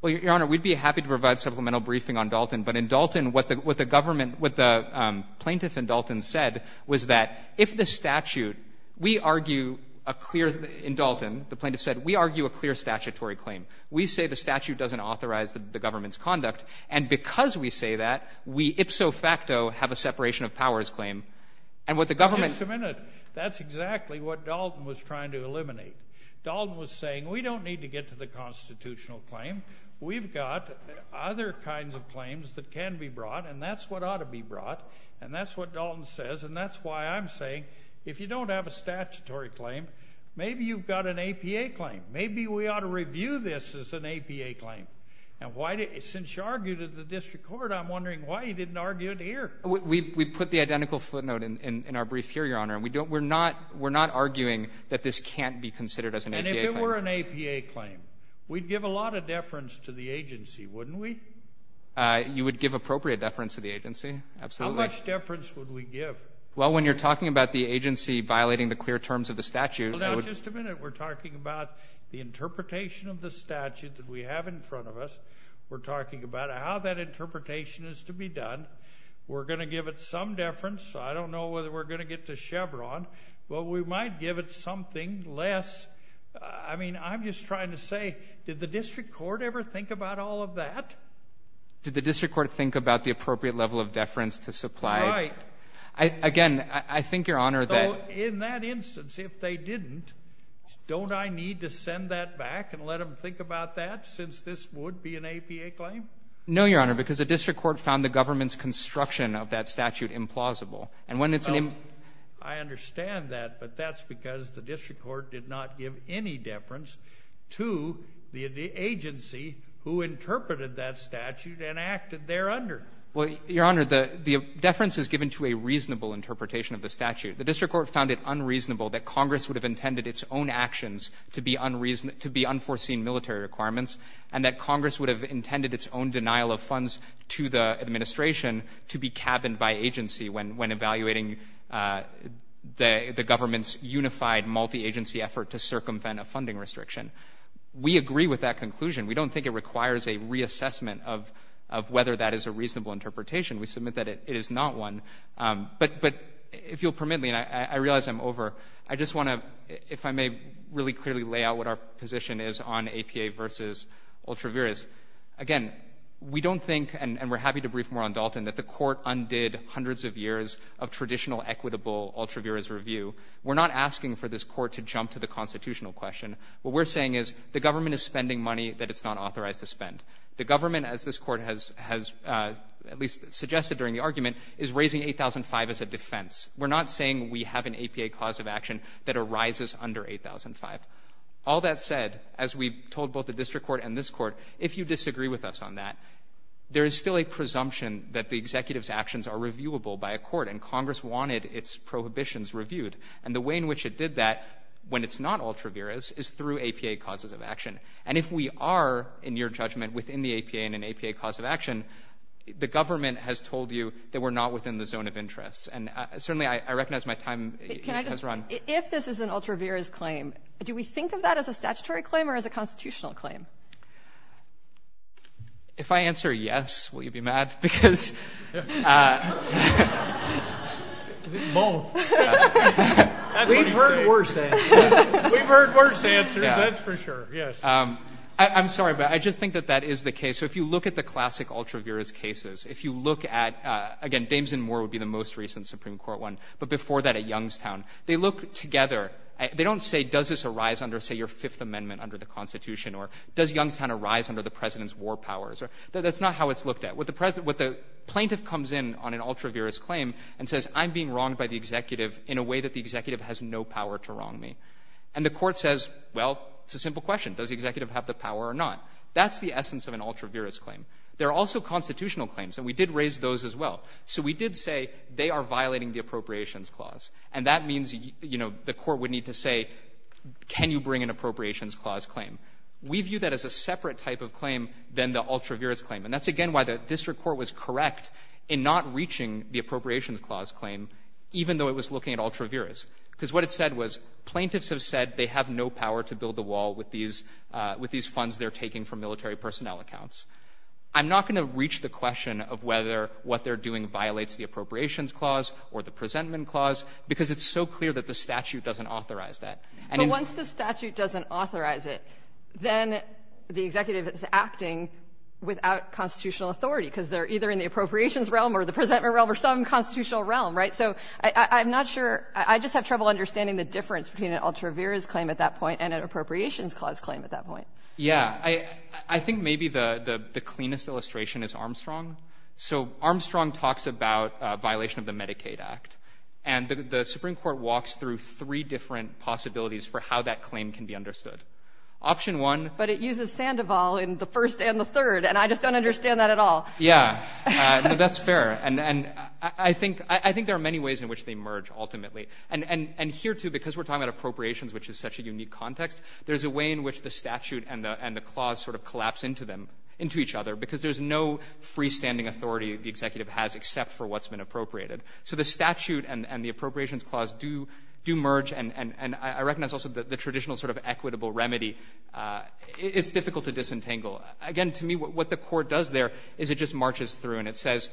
Well, Your Honor, we'd be happy to provide supplemental briefing on Dalton. But in Dalton, what the government, what the plaintiff in Dalton said was that if the statute, we argue a clear, in Dalton, the plaintiff said, we argue a clear statutory claim. We say the statute doesn't authorize the government's conduct. And because we say that, we ipso facto have a separation of powers claim. And what the government... Wait a minute. That's exactly what Dalton was trying to eliminate. Dalton was saying, we don't need to get to the constitutional claim. We've got other kinds of claims that can be brought, and that's what ought to be brought. And that's what Dalton says. And that's why I'm saying if you don't have a statutory claim, maybe you've got an APA claim. Maybe we ought to review this as an APA claim. Since you argued it in the district court, I'm wondering why you didn't argue it here. We put the identical footnote in our brief here, Your Honor. We're not arguing that this can't be considered as an APA claim. And if it were an APA claim, we'd give a lot of deference to the agency, wouldn't we? You would give appropriate deference to the agency, absolutely. How much deference would we give? Well, when you're talking about the agency violating the clear terms of the statute... Now, just a minute. We're talking about the interpretation of the statute that we have in front of us. We're talking about how that interpretation is to be done. We're going to give it some deference. I don't know whether we're going to get to Chevron, but we might give it something less. I mean, I'm just trying to say, did the district court ever think about all of that? Did the district court think about the appropriate level of deference to supply... Again, I think, Your Honor... So, in that instance, if they didn't, don't I need to send that back and let them think about that, since this would be an APA claim? No, Your Honor, because the district court found the government's construction of that statute implausible. I understand that, but that's because the district court did not give any deference to the agency who interpreted that statute and acted there under. Your Honor, the deference is given to a reasonable interpretation of the statute. The district court found it unreasonable that Congress would have intended its own actions to be unforeseen military requirements, and that Congress would have intended its own denial of funds to the administration to be cabined by agency when evaluating the government's unified, multi-agency effort to circumvent a funding restriction. We agree with that conclusion. We don't think it requires a reassessment of whether that is a reasonable interpretation. We submit that it is not one. But, if you'll permit me, and I realize I'm over, I just want to, if I may, really clearly lay out what our position is on APA versus ultra vires. Again, we don't think, and we're happy to brief more on Dalton, that the court undid hundreds of years of traditional equitable ultra vires review. We're not asking for this court to jump to the constitutional question. What we're saying is the government is spending money that it's not authorized to spend. The government, as this court has at least suggested during the argument, is raising 8,005 as a defense. We're not saying we have an APA cause of action that arises under 8,005. All that said, as we've told both the district court and this court, if you disagree with us on that, there is still a presumption that the executive's actions are reviewable by a court, and Congress wanted its prohibitions reviewed. And the way in which it did that, when it's not reviewable, it's not a case of a an APA cause of action. And if we are, in your judgment, within the APA and an APA cause of action, the government has told you that we're not within the zone of interest. And certainly I recognize my time has run. If this is an ultra vires claim, do we think of that as a statutory claim or as a constitutional claim? If I answer yes, will you be mad? We won't. We've heard worse answers. That's for sure. Yes. I'm sorry, but I just think that that is the case. So if you look at the classic ultra vires cases, if you look at, again, Dames and Moore would be the most recent Supreme Court one, but before that at Youngstown, they look together. They don't say, does this arise under, say, your Fifth Amendment under the Constitution, or does Youngstown arise under the president's war powers? That's not how it's looked at. What the plaintiff comes in on an ultra vires claim and says, I'm being wronged by the executive in a way that the executive has no power to wrong me. And the court says, well, it's a simple question. Does the executive have the power or not? That's the essence of an ultra vires claim. There are also constitutional claims, and we did raise those as well. So we did say they are violating the appropriations clause, and that means the court would need to say, can you bring an appropriations clause claim? We view that as a separate type of claim than the ultra vires claim, and that's, again, why the district court was correct in not reaching the appropriations clause claim even though it was looking at ultra vires. Because what it said was, plaintiffs have said they have no power to build the wall with these funds they're taking from military personnel accounts. I'm not going to reach the question of whether what they're doing violates the appropriations clause or the presentment clause, because it's so clear that the statute doesn't authorize that. But once the statute doesn't authorize it, then the executive is acting without constitutional authority, because they're either in the appropriations realm or the presentment realm or some constitutional realm, right? So I'm not sure. I just have trouble understanding the difference between an ultra vires claim at that point and an appropriations clause claim at that point. Yeah. I think maybe the cleanest illustration is Armstrong. So Armstrong talks about a violation of the Medicaid Act, and the Supreme Court walks through three different possibilities for how that claim can be understood. Option one... The first and the third, and I just don't understand that at all. Yeah, that's fair. And I think there are many ways in which they merge, ultimately. And here, too, because we're talking about appropriations, which is such a unique context, there's a way in which the statute and the clause sort of collapse into each other, because there's no freestanding authority the executive has except for what's been appropriated. So the statute and the appropriations clause do merge, and I recognize also the traditional sort of equitable remedy. It's difficult to disentangle. Again, to me, what the court does there is it just marches through, and it says,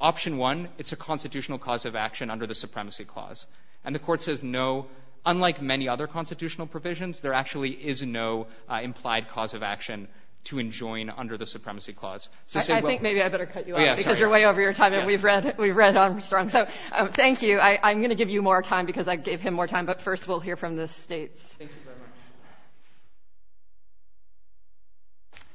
option one, it's a constitutional cause of action under the supremacy clause. And the court says no. Unlike many other constitutional provisions, there actually is no implied cause of action to enjoin under the supremacy clause. I think maybe I better cut you off, because you're way over your time, and we've read Armstrong. Thank you. I'm going to give you more time, because I gave him more time, but first we'll hear from the states. Thank you very much.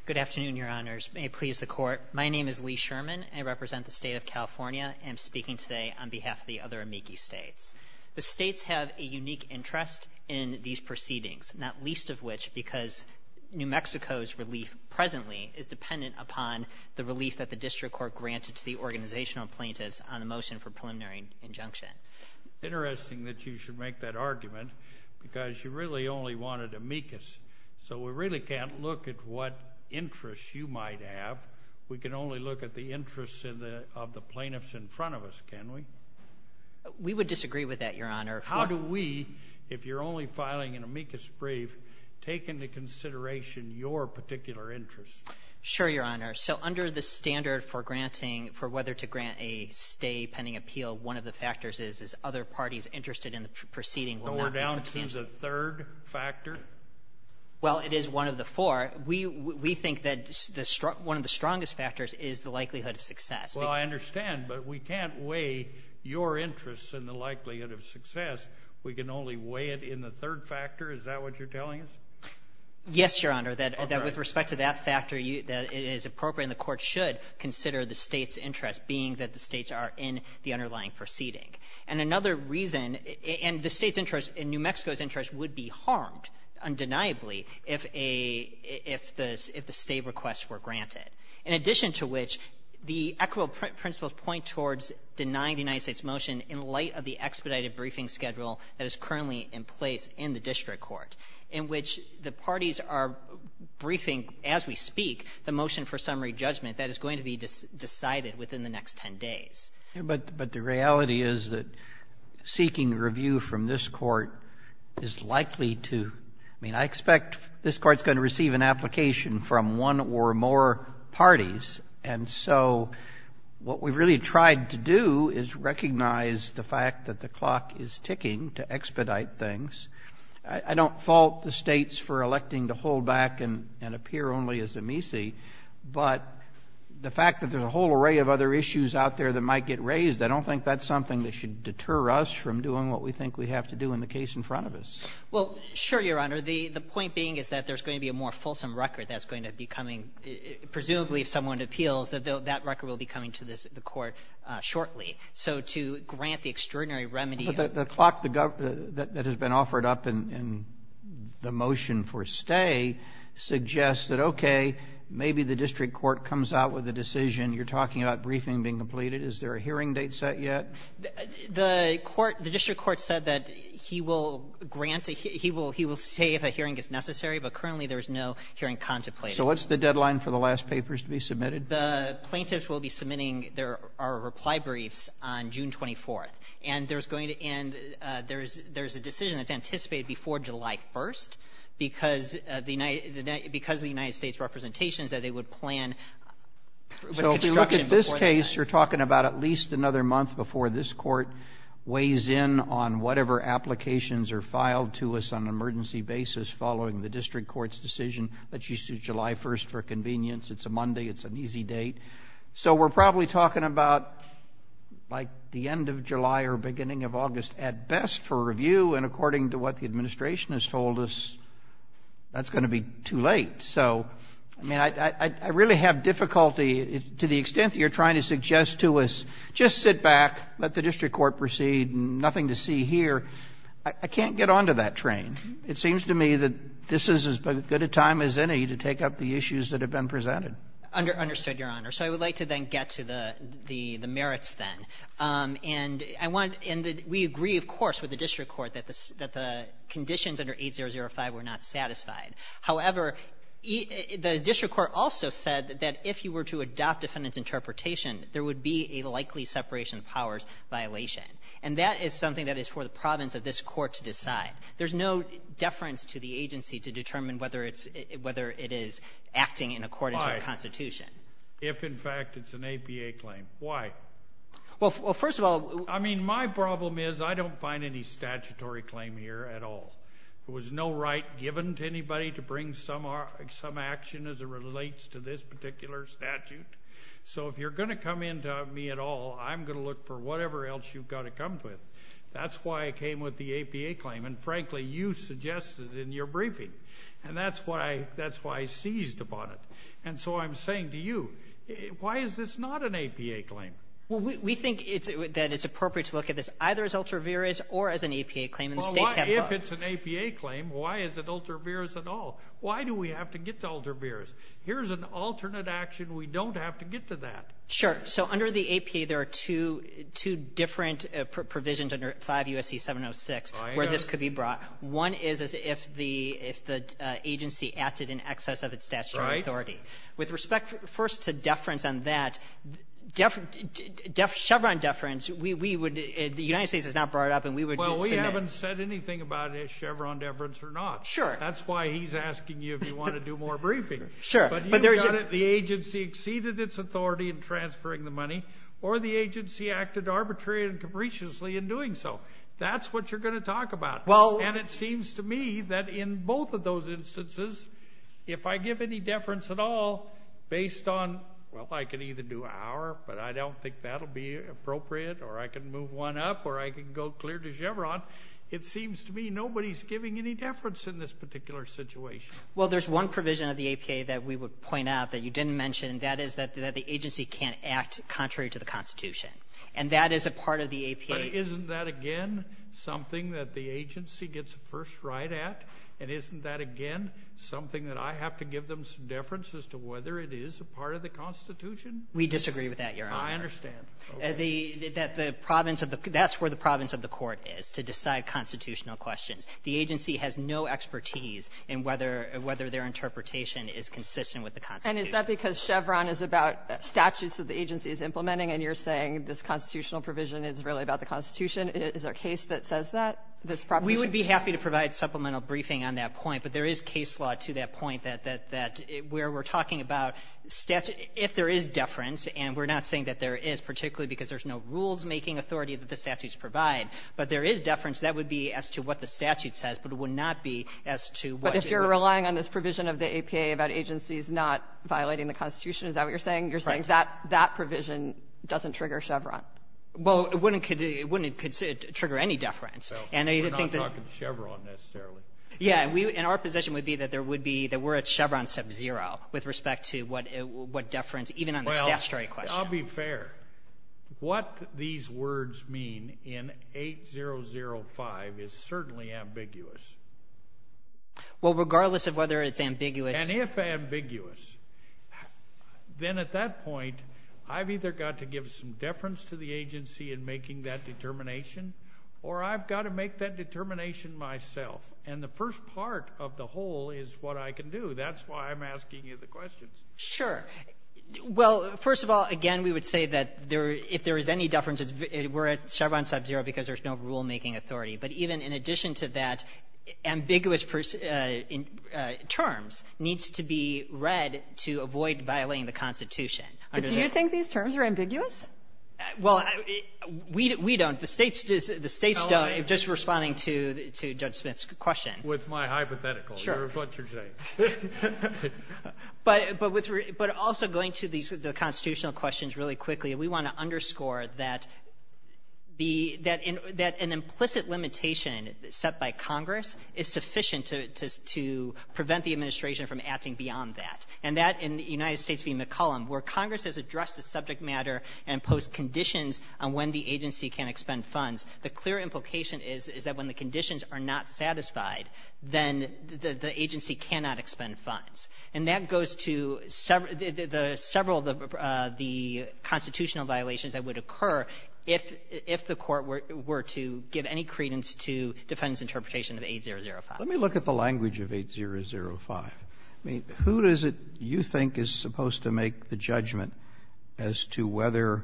Good afternoon, your honors. May it please the court. My name is Lee Sherman. I represent the state of California, and I'm speaking today on behalf of the other amici states. The states have a unique interest in these proceedings, not least of which because New Mexico's relief presently is dependent upon the relief that the district court granted to the organizational plaintiffs on a motion for preliminary injunction. Interesting that you should make that argument, because you really only wanted amicus. So we really can't look at what interest you might have. We can only look at the interest of the plaintiffs in front of us, can we? We would disagree with that, your honor. How do we, if you're only filing an amicus brief, take into consideration your particular interest? Sure, your honor. So under the standard for whether to grant a pending appeal, one of the factors is other parties interested in the proceeding were not. So we're down to the third factor? Well, it is one of the four. We think that one of the strongest factors is the likelihood of success. Well, I understand, but we can't weigh your interest in the likelihood of success. We can only weigh it in the third factor. Is that what you're telling us? Yes, your honor. With respect to that factor, it is appropriate, and the court should consider the states are in the underlying proceeding. And another reason, and New Mexico's interest would be harmed undeniably if the state requests were granted. In addition to which, the equitable principles point towards denying the United States motion in light of the expedited briefing schedule that is currently in place in the district court in which the parties are briefing as we speak the motion for summary judgment that is going to be decided within the next 10 days. But the reality is that seeking review from this court is likely to, I mean, I expect this court's going to receive an application from one or more parties, and so what we really tried to do is recognize the fact that the clock is ticking to expedite things. I don't fault the states for electing to hold back and appear only as amici, but the fact that there's a whole array of other issues out there that might get raised, I don't think that's something that should deter us from doing what we think we have to do in the case in front of us. Well, sure, Your Honor. The point being is that there's going to be a more fulsome record that's going to be coming, presumably if someone appeals, that record will be coming to the court shortly. So to grant the extraordinary remedy The clock that has been offered up in the motion for stay suggests that, okay, maybe the district court comes out with a decision, you're talking about briefing being completed, is there a hearing date set yet? The court, the district court said that he will grant he will say if a hearing is necessary, but currently there's no hearing contemplated. So what's the deadline for the last papers to be submitted? The plaintiffs will be submitting their reply brief on June 24th, and there's going to end, there's a decision that's anticipated before July 1st because the United States representations that they would plan So if you look at this case, you're talking about at least another month before this court weighs in on whatever applications are filed to us on an emergency basis following the district court's decision that she sued July 1st for convenience. It's a Monday, it's an easy date. So we're probably talking about like the end of July or beginning of August at best for review, and according to what the administration has told us, that's going to be too late. So, I mean, I really have difficulty to the extent that you're trying to suggest to us, just sit back, let the district court proceed, nothing to see here. I can't get on to that train. It seems to me that this is as good a time as any to take up the issues that have been presented. Understood, Your Honor. So I would like to then get to the merits then. And we agree, of course, with the district court that the conditions under 8005 were not satisfied. However, the district court also said that if you were to adopt a sentence interpretation, there would be a likely separation of powers violation. And that is something that is for the province of this court to decide. There's no deference to the agency to determine whether it is acting in accordance with the Constitution. If, in fact, it's an APA claim. Why? Well, first of all... I mean, my problem is I don't find any statutory claim here at all. There was no right given to anybody to bring some action as it relates to this particular statute. So if you're going to come in to me at all, I'm going to look for whatever else you've got to come with. That's why I came with the APA claim. And frankly, you suggested it in your briefing. And that's why I seized upon it. And so I'm saying to you, why is this not an APA claim? Well, we think that it's appropriate to look at this either as ultraviarious or as an APA claim. If it's an APA claim, why is it ultraviarious at all? Why do we have to get to ultraviarious? Here's an alternate action. We don't have to get to that. Sure. So under the APA, there are two different provisions under 5 U.S.C. 706 where this could be brought. One is if the agency acted in excess of its statutory authority. With respect, first to that, Chevron deference, the United States is not brought up and we would Well, we haven't said anything about Chevron deference or not. Sure. That's why he's asking you if you want to do more briefing. Sure. But the agency exceeded its authority in transferring the money or the agency acted arbitrarily and capriciously in doing so. That's what you're going to talk about. And it seems to me that in both of those instances, if I give any deference at all based on, well, I can even do an hour, but I don't think that'll be appropriate or I can move one up or I can go clear to Chevron. It seems to me nobody's giving any deference in this particular situation. Well, there's one provision of the APA that we would point out that you didn't mention. That is that the agency can't act contrary to the Constitution. And that is a part of the APA. Isn't that again something that the agency gets a first right at? And isn't that again something that I have to give them some deference as to whether it is a part of the Constitution? We disagree with that, Your Honor. I understand. That the province of the court is to decide constitutional questions. The agency has no expertise in whether their interpretation is consistent with the Constitution. And is that because Chevron is about statutes that the agency is implementing and you're saying this constitutional provision is really about the Constitution? Is there a case that says that? We would be happy to provide supplemental briefing on that case law to that point that where we're talking about if there is deference, and we're not saying that there is, particularly because there's no rules making authority that the statutes provide, but there is deference, that would be as to what the statute says, but it would not be as to what... But if you're relying on this provision of the APA about agencies not violating the Constitution, is that what you're saying? You're saying that that provision doesn't trigger Chevron? Well, it wouldn't trigger any deference. We're not talking Chevron necessarily. Yeah, and our position would be that we're at Chevron sub-zero with respect to what deference even on the statutory question. Well, I'll be fair. What these words mean in 8005 is certainly ambiguous. Well, regardless of whether it's ambiguous... And if ambiguous, then at that point I've either got to give some deference to the agency in making that determination or I've got to make that and the first part of the whole is what I can do. That's why I'm asking you the questions. Sure. Well, first of all, again, we would say that if there is any deference, we're at Chevron sub-zero because there's no rulemaking authority, but even in addition to that, ambiguous terms need to be read to avoid violating the Constitution. Do you think these terms are ambiguous? Well, we don't. The states don't. Just responding to Judge Smith's question. With my hypothetical. Sure. But also going to the constitutional questions really quickly, we want to underscore that an implicit limitation set by Congress is sufficient to prevent the administration from acting beyond that and that in the United States being the column where Congress has addressed the subject matter and imposed conditions on when the agency can expend funds, the clear implication is that when the conditions are not satisfied, then the agency cannot expend funds. And that goes to several of the constitutional violations that would occur if the court were to give any credence to defendant's interpretation of 8005. Let me look at the language of 8005. Who is it you think is supposed to make the judgment as to whether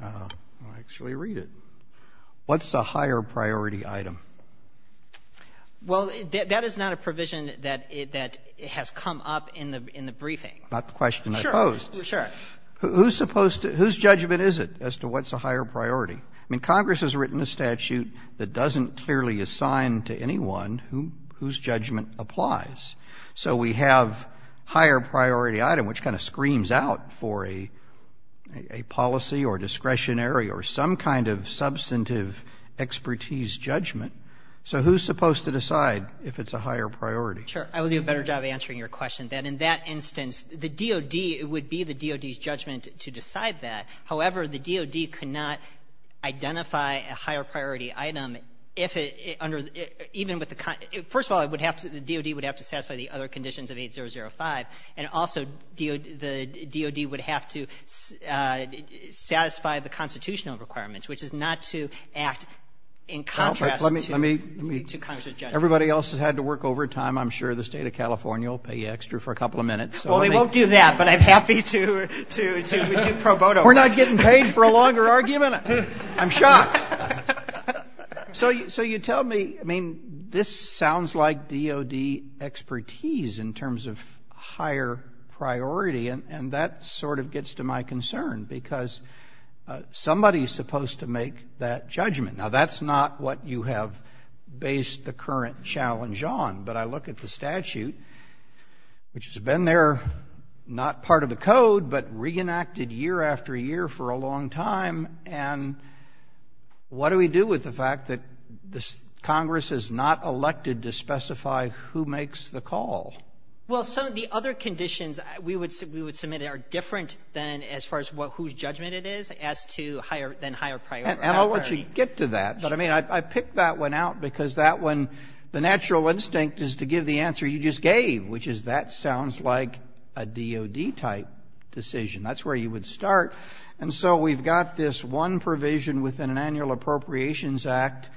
I'll actually read it. What's the higher priority item? Well, that is not a provision that has come up in the briefing. Not the question I posed. Sure. Whose judgment is it as to what's the higher priority? I mean, Congress has written a statute that doesn't clearly assign to anyone whose judgment applies. So we have higher priority item, which kind of screams out for a policy or discretionary or some kind of substantive expertise judgment. So who's supposed to decide if it's a higher priority? Sure. I would do a better job answering your question. In that instance, the DOD would be the DOD's judgment to decide that. However, the DOD cannot identify a higher priority item even with the first of all, the DOD would have to satisfy the other conditions of 8005. And also the DOD would have to satisfy the constitutional requirements, which is not to act in contrast to Congress's judgment. Everybody else has had to work overtime. I'm sure the state of California will pay extra for a couple of minutes. Well, we won't do that, but I'm happy to pro bono. We're not getting paid for a longer argument? I'm shocked. So you tell me, I mean, this sounds like DOD expertise in terms of higher priority, and that sort of gets to my concern, because somebody's supposed to make that judgment. Now, that's not what you have based the current challenge on. But I look at the statute, which has been there not part of the code, but reenacted year after year for a long time, and what do we do with the fact that Congress is not elected to specify who makes the call? Well, some of the other conditions we would submit are different than as far as whose judgment it is than higher priority. And I'll let you get to that, but I mean, I picked that one out because that one, the natural instinct is to give the answer you just gave, which is that sounds like a DOD-type decision. That's where you would start. And so we've got this one provision within an Annual Appropriations Act.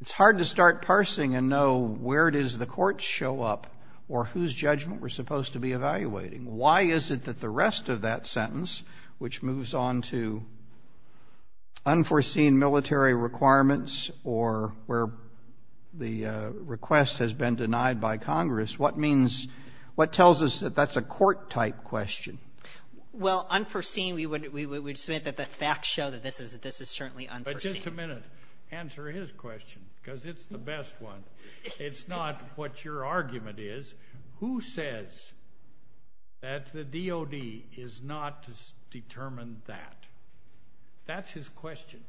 It's hard to start parsing and know where does the court show up or whose judgment we're supposed to be evaluating. Why is it that the rest of that sentence, which moves on to unforeseen military requirements or where the request has been denied by Congress, what means, what tells us that that's a court-type question? Well, unforeseen, we would submit that the facts show that this is certainly unforeseen. Just a minute. Answer his question, because it's the best one. It's not what your argument is. Who says that the DOD is not to determine that? That's his question.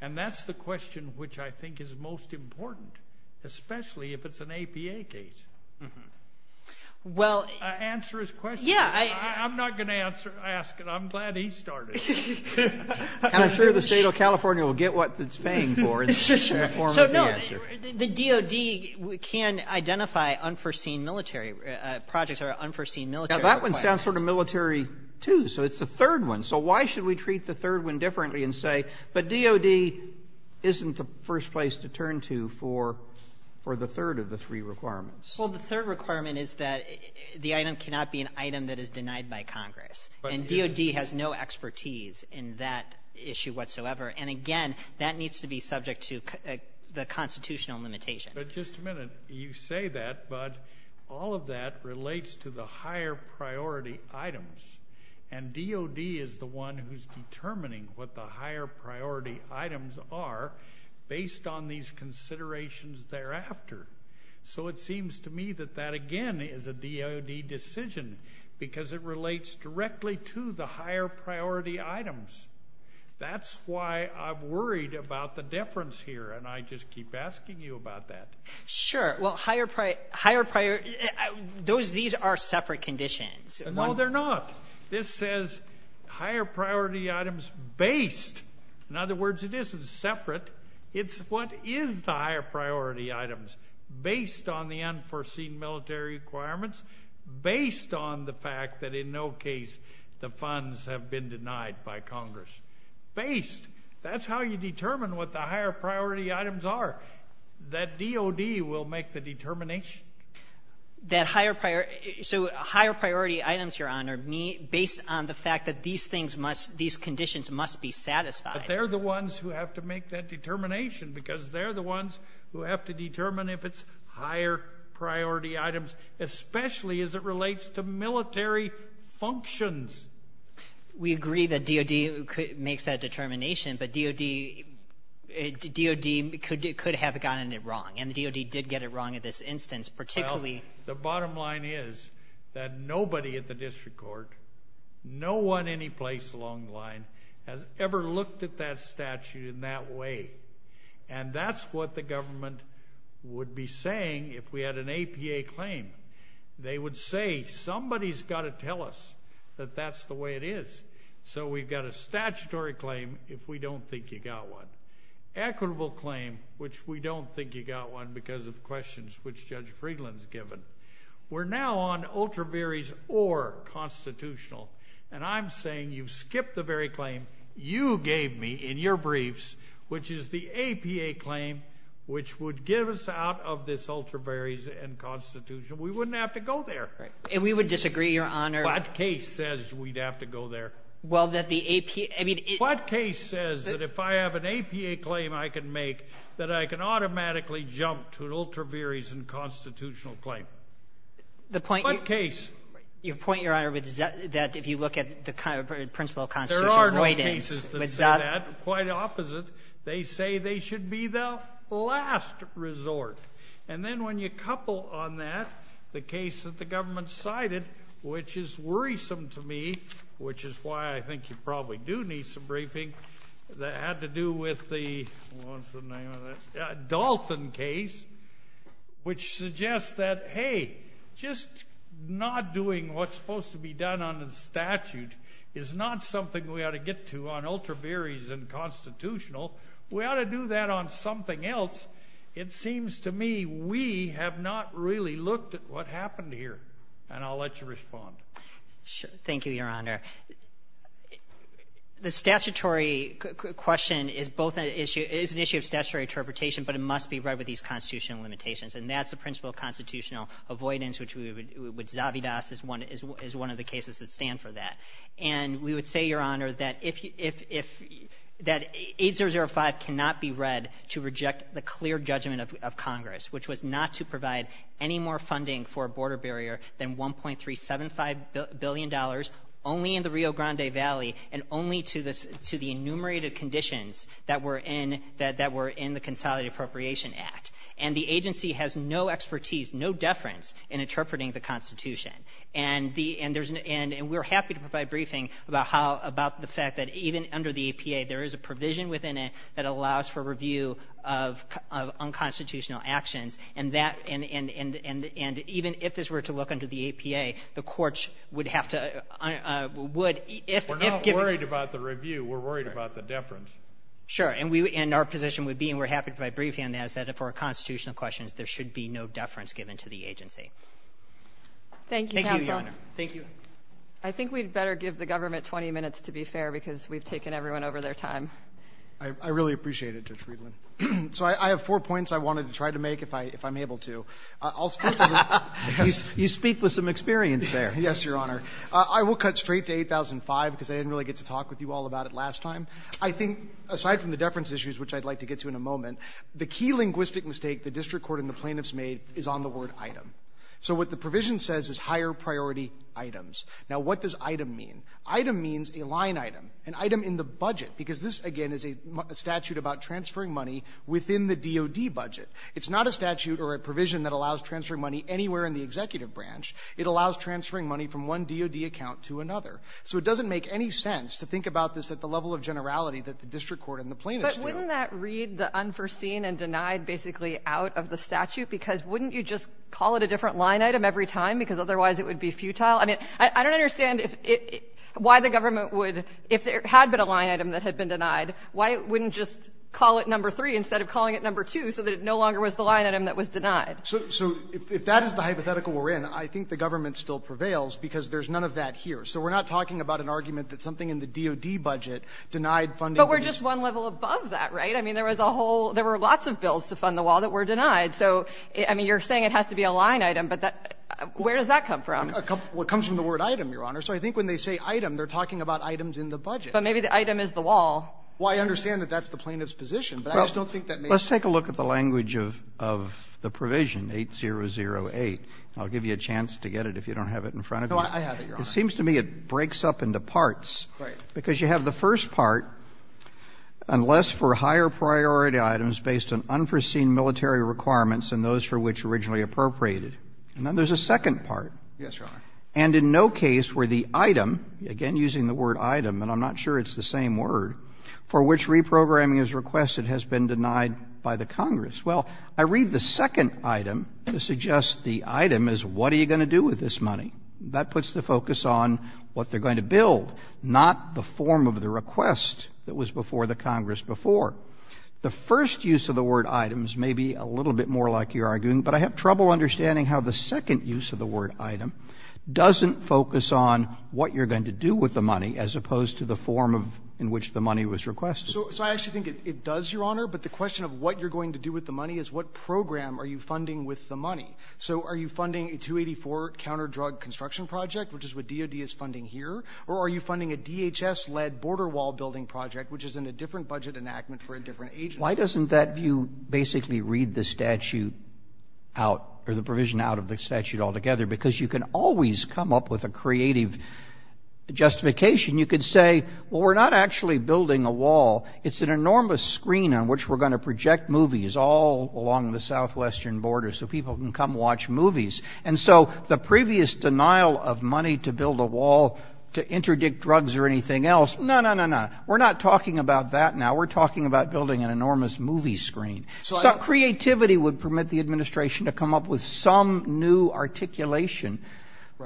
And that's the question which I think is most important, especially if it's an APA case. Answer his question. I'm not going to ask it. I'm glad he started. And I'm sure the state of California will get what it's paying for in the form of the answer. The DOD can identify unforeseen military projects or unforeseen military requirements. That one sounds sort of military, too, so it's the third one. So why should we treat the third one differently and say, but DOD isn't the first place to turn to for the third of the three requirements? Well, the third requirement is that the item cannot be an item that is denied by Congress. And DOD has no expertise in that issue whatsoever. And again, that needs to be subject to the constitutional limitation. But just a minute. You say that, but all of that relates to the higher priority items. And DOD is the one who's determining what the higher priority items are based on these considerations thereafter. So it seems to me that that again is a DOD decision because it relates directly to the higher priority items. That's why I'm worried about the difference here and I just keep asking you about that. Sure. Well, higher priority... These are separate conditions. No, they're not. This says higher priority items based. In other words, this is separate. It's what is the higher priority items based on the unforeseen military requirements based on the fact that in no case the funds have been denied by Congress. Based. That's how you determine what the higher priority items are. That DOD will make the determination. That higher priority... So higher priority items, Your Honor, based on the fact that these things must, these conditions must be satisfied. But they're the ones who have to make that determination because they're the ones who have to determine if it's higher priority items, especially as it relates to military functions. We agree that DOD makes that determination, but DOD could have gotten it wrong. And DOD did get it wrong in this instance, particularly... Well, the bottom line is that nobody at the District Court, no one anyplace along the line, has ever looked at that statute in that way. And that's what the DOD would have done. If we had an APA claim, they would say, somebody's got to tell us that that's the way it is. So we've got a statutory claim if we don't think you got one. Equitable claim, which we don't think you got one because of questions which Judge Friedland's given. We're now on ultra varies or constitutional. And I'm saying you skip the very claim you gave me in your briefs, which is the APA claim which would give us out of this ultra varies and constitution. We wouldn't have to go there. And we would disagree, Your Honor. What case says we'd have to go there? What case says that if I have an APA claim I can make that I can automatically jump to an ultra varies and constitutional claim? What case? Your point, Your Honor, is that if you look at the principle of constitutional avoidance... quite opposite, they say they should be the last resort. And then when you couple on that the case that the government cited, which is worrisome to me, which is why I think you probably do need some briefing, that had to do with the Dalton case, which suggests that, hey, just not doing what's supposed to be done on the statute is not something we ought to get to on ultra varies and constitutional. We ought to do that on something else. It seems to me we have not really looked at what happened here. And I'll let you respond. Thank you, Your Honor. The statutory question is both an issue of statutory interpretation, but it must be rubbed with these constitutional limitations. And that's the principle of constitutional avoidance, which we would... is one of the cases that we're looking for that. And we would say, Your Honor, that 8005 cannot be read to reject the clear judgment of Congress, which was not to provide any more funding for a border barrier than 1.375 billion dollars, only in the Rio Grande Valley, and only to the enumerated conditions that were in the Consolidated Appropriation Act. And the agency has no expertise, no deference in interpreting the Constitution. And we're happy to provide briefing about the fact that even under the APA, there is a provision within it that allows for review of unconstitutional actions. And even if this were to look under the APA, the courts would have to... We're not worried about the review. We're worried about the deference. Sure. And our position would be, and we're happy to provide briefing on that, is that for constitutional questions, there should be no deference given to the Constitution. Thank you. I think we'd better give the government 20 minutes to be fair because we've taken everyone over their time. I really appreciate it, Judge Friedland. So I have four points I wanted to try to make if I'm able to. You speak with some experience there. Yes, Your Honor. I will cut straight to 8005 because I didn't really get to talk with you all about it last time. I think, aside from the deference issues, which I'd like to get to in a moment, the key linguistic mistake the district court and the plaintiffs made is on the word item. So what the provision says is higher priority items. Now, what does item mean? Item means a line item, an item in the budget because this, again, is a statute about transferring money within the DOD budget. It's not a statute or a provision that allows transferring money anywhere in the executive branch. It allows transferring money from one DOD account to another. So it doesn't make any sense to think about this at the level of generality that the district court and the plaintiffs do. But wouldn't that read the unforeseen and denied basically out of the statute because wouldn't you just call it a different line item every time because otherwise it would be futile? I mean, I don't understand why the government would, if there had been a line item that had been denied, why it wouldn't just call it number three instead of calling it number two so that it no longer was the line item that was denied. So if that is the hypothetical we're in, I think the government still prevails because there's none of that here. So we're not talking about an argument that something in the DOD budget denied funding. But we're just one level above that, right? I mean, there was a whole, there were lots of bills to fund the wall that were denied. So, I mean, you're saying it has to be a line item, but where does that come from? It comes from the word item, Your Honor. So I think when they say item, they're talking about items in the budget. But maybe the item is the wall. Well, I understand that that's the plaintiff's position. Let's take a look at the language of the provision, 8008. I'll give you a chance to get it if you don't have it in front of you. It seems to me it breaks up into parts because you have the first part unless for higher priority items based on unforeseen military requirements and those for which originally appropriated. And then there's a second part. Yes, Your Honor. And in no case where the item, again using the word item, and I'm not sure it's the same word, for which reprogramming is requested has been denied by the Congress. Well, I read the second item to suggest the item is what are you going to do with this money? That puts the focus on what they're going to build, not the form of the request that was before the Congress before. The first use of the word items may be a little bit more like you're arguing, but I have trouble understanding how the second use of the word item doesn't focus on what you're going to do with the money as opposed to the form in which the money was requested. So I actually think it does, Your Honor, but the question of what you're going to do with the money is what program are you funding with the money? So are you funding a 284 counter drug construction project, which is what DOD is funding here? Or are you funding a DHS-led border wall building project, which is in a different budget enactment for a different agency? Why doesn't that view basically read the statute out, or the provision out of the statute altogether? Because you can always come up with a creative justification. You could say, well, we're not actually building a wall. It's an enormous screen on which we're going to project movies all along the southwestern border so people can come watch movies. And so the previous denial of money to build a wall to interdict drugs or anything else, no, no, no, no. We're not talking about that now. We're talking about building an enormous movie screen. So creativity would permit the administration to come up with some new articulation,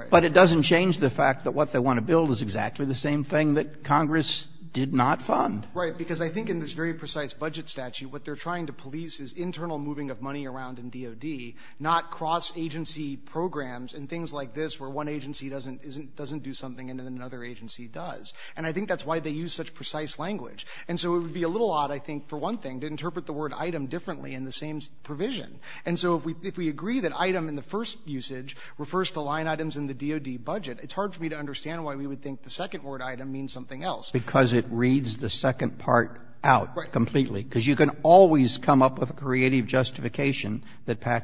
but it doesn't change the fact that what they want to build is exactly the same thing that Congress did not fund. Right, because I think in this very precise budget statute, what they're trying to police is internal moving of money around in DOD, not cross-agency programs and things like this where one agency doesn't do something and another agency does. And I think that's why they use such precise language. And so it would be a little odd, I think, for one thing, to interpret the word item differently in the same provision. And so if we agree that item in the first usage refers to line items in the DOD budget, it's hard for me to understand why we would think the second word item means something else. Because it reads the second part out completely. Because you can always come up with a creative justification that I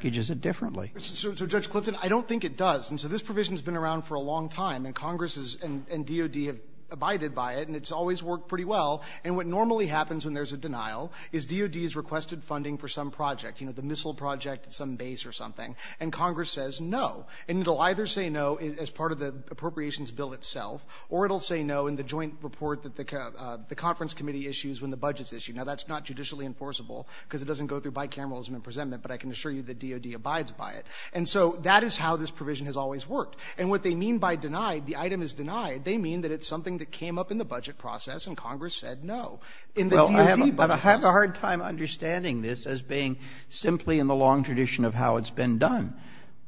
don't think it does. And so this provision's been around for a long time, and Congress and DOD have abided by it, and it's always worked pretty well. And what normally happens when there's a denial is DOD has requested funding for some project, the missile project at some base or something, and Congress says no. And it'll either say no as part of the appropriations bill itself, or it'll say no in the joint report that the conference committee issues when the budget's issued. Now that's not judicially enforceable, because it doesn't go through bicameralism and presentment, but I can assure you DOD abides by it. And so that is how this provision has always worked. And what they mean by denied, the item is denied, they mean that it's something that came up in the budget process and Congress said no. I have a hard time understanding this as being simply in the long tradition of how it's been done.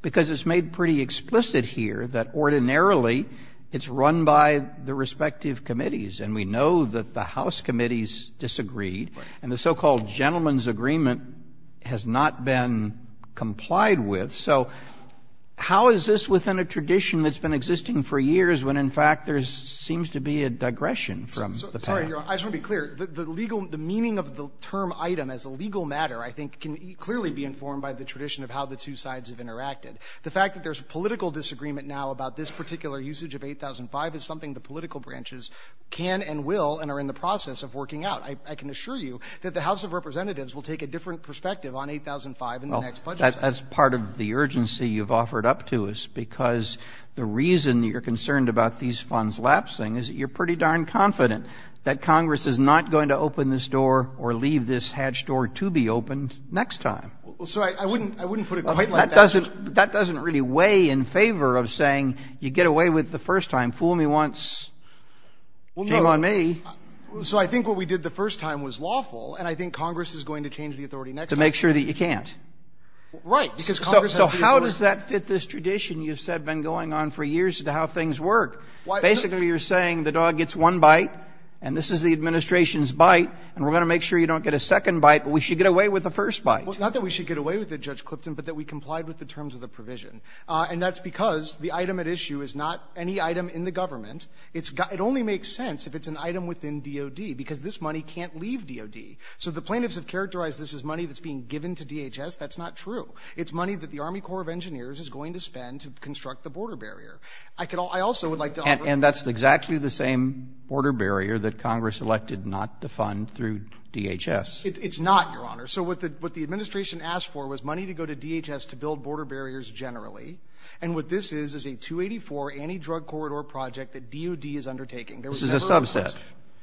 Because it's made pretty explicit here that ordinarily it's run by the respective committees, and we know that the House committees disagreed, and the so-called gentleman's agreement has not been complied with. So how is this within a tradition that's been existing for years, when in fact there seems to be a digression from the past? I just want to be clear, the legal, the meaning of the term item as a legal matter, I think, can clearly be informed by the tradition of how the two sides have interacted. The fact that there's a political disagreement now about this particular usage of 8005 is something the political branches can and will, and are in the process of working out. I can assure you that the House of Representatives will take a different perspective on 8005 in the next budget. That's part of the urgency you've offered up to us, because the reason you're concerned about these funds lapsing is that you're pretty darn confident that Congress is not going to open this door or leave this hatch door to be opened next time. So I wouldn't put it quite like that. That doesn't really weigh in favor of saying you get away with the first time, fool me once, jingle on me. So I think what we did the first time was lawful, and I think Congress is going to change the authority next time. To make sure that you can't. Right. So how does that fit this tradition you've said been going on for years as to how things work? Basically you're saying the dog gets one bite, and this is the administration's bite, and we're going to make sure you don't get a second bite, but we should get away with the first bite. Not that we should get away with it, Judge Clifton, but that we complied with the terms of the provision. And that's because the item at issue is not any item in the government. It only makes sense if it's an item within DOD, because this money can't leave DOD. So the plaintiffs have characterized this as money that's being given to DHS. That's not true. It's money that the Army Corps of Engineers is going to spend to construct the border barrier. And that's exactly the same border barrier that Congress elected not to fund through DHS. It's not, Your Honor. So what the administration asked for was money to go to DHS to build border barriers generally, and what this is is a 284 anti-drug corridor project that DOD is undertaking. This is a subset.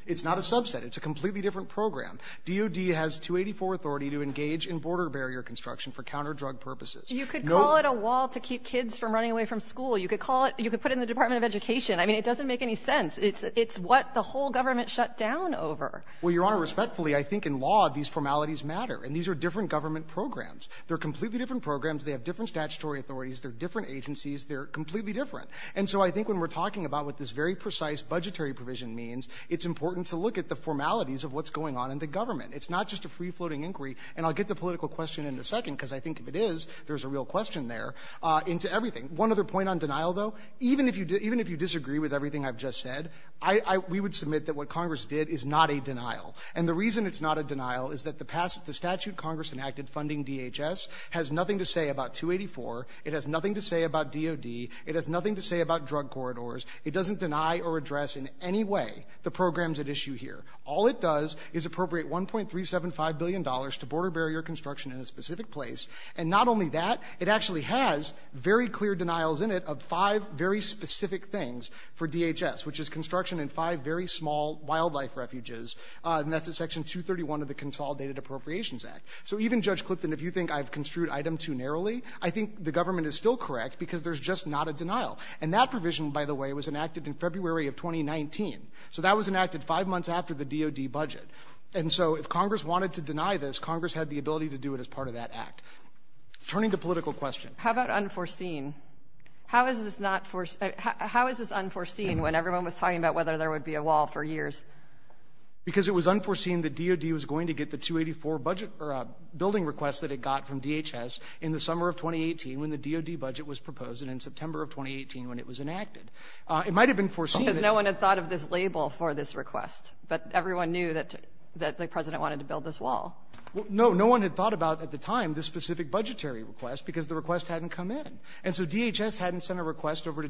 It's not a subset. It's a completely different program. DOD has 284 authority to engage in border barrier construction for counter-drug purposes. You could call it a wall to keep kids from running away from school. You could put it in the Department of Education. I mean, it doesn't make any sense. It's what the whole government shut down over. Well, Your Honor, respectfully, I think in law these formalities matter, and these are different government programs. They're completely different programs. They have different statutory authorities. They're different and so I think when we're talking about what this very precise budgetary provision means, it's important to look at the formalities of what's going on in the government. It's not just a free-floating inquiry, and I'll get the political question in a second, because I think if it is, there's a real question there, into everything. One other point on denial, though, even if you disagree with everything I've just said, we would submit that what Congress did is not a denial, and the reason it's not a denial is that the statute Congress enacted funding DHS has nothing to say about 284. It has nothing to say about DOD. It has nothing to say about drug corridors. It doesn't deny or address in any way the programs at issue here. All it does is appropriate $1.375 billion to border barrier construction in a specific place, and not only that, it actually has very clear denials in it of five very specific things for DHS, which is construction in five very small wildlife refuges, and that's in Section 231 of the Consolidated Appropriations Act. So even Judge Clifton, if you think I've construed item too narrowly, I think the government is still correct because there's just not a denial, and that provision, by the way, was enacted in February of 2019, so that was enacted five months after the DOD budget, and so if Congress wanted to deny this, Congress had the ability to do it as part of that act. Turning to political questions. How about unforeseen? How is this unforeseen when everyone was talking about whether there would be a wall for years? Because it was unforeseen that DOD was going to get the 284 building request that it got from DHS in the summer of 2018 when the DOD budget was proposed, and in September of 2018 when it was enacted. It might have been foreseen. Because no one had thought of this label for this request, but everyone knew that the President wanted to build this wall. No, no one had thought about, at the time, this specific budgetary request because the request hadn't come in, and so DHS hadn't sent a request over to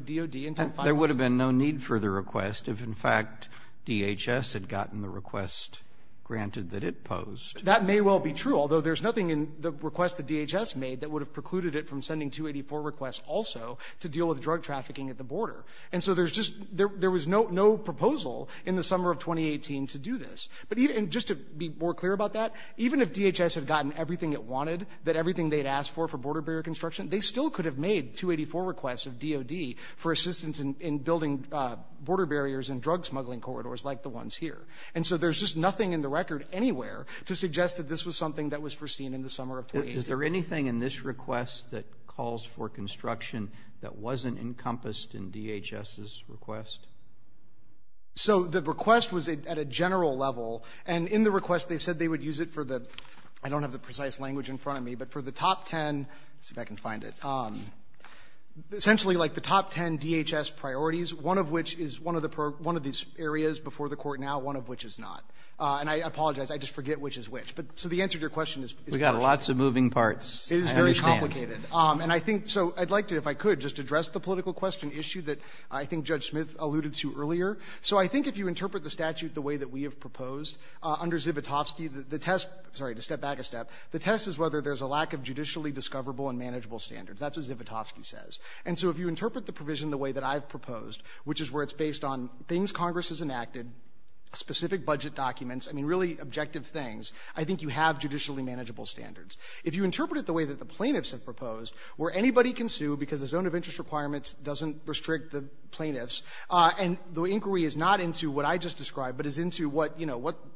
request if, in fact, DHS had gotten the request granted that it posed. That may well be true, although there's nothing in the request that DHS made that would have precluded it from sending 284 requests also to deal with drug trafficking at the border. And so there was no proposal in the summer of 2018 to do this. And just to be more clear about that, even if DHS had gotten everything it wanted, that everything they'd asked for for border barrier construction, they still could have made 284 requests of DOD for assistance in building border barriers and drug smuggling corridors like the ones here. And so there's just nothing in the record anywhere to suggest that this was something that was foreseen in the summer of 2018. Is there anything in this request that calls for construction that wasn't encompassed in DHS's request? So the request was at a general level, and in the request they said they would use it for the – I don't have the precise language in front of me, but for the top 10 – let's see if I can find it – essentially, like, the top 10 DHS priorities, one of which is one of these areas before the court now, one of which is not. And I apologize, I just forget which is which. So the answer to your question is – We've got lots of moving parts. It is very complicated. And I think – so I'd like to, if I could, just address the political question issue that I think Judge Smith alluded to earlier. So I think if you interpret the statute the way that we have proposed, under Zivotofsky, the test – sorry, to step back a step – the test is whether there's a lack of judicially discoverable and manageable standards. That's what Zivotofsky says. And so if you interpret the statute based on things Congress has enacted, specific budget documents, I mean, really objective things, I think you have judicially manageable standards. If you interpret it the way that the plaintiffs have proposed, where anybody can sue because the zone of interest requirements doesn't restrict the plaintiffs, and the inquiry is not into what I just described, but is into what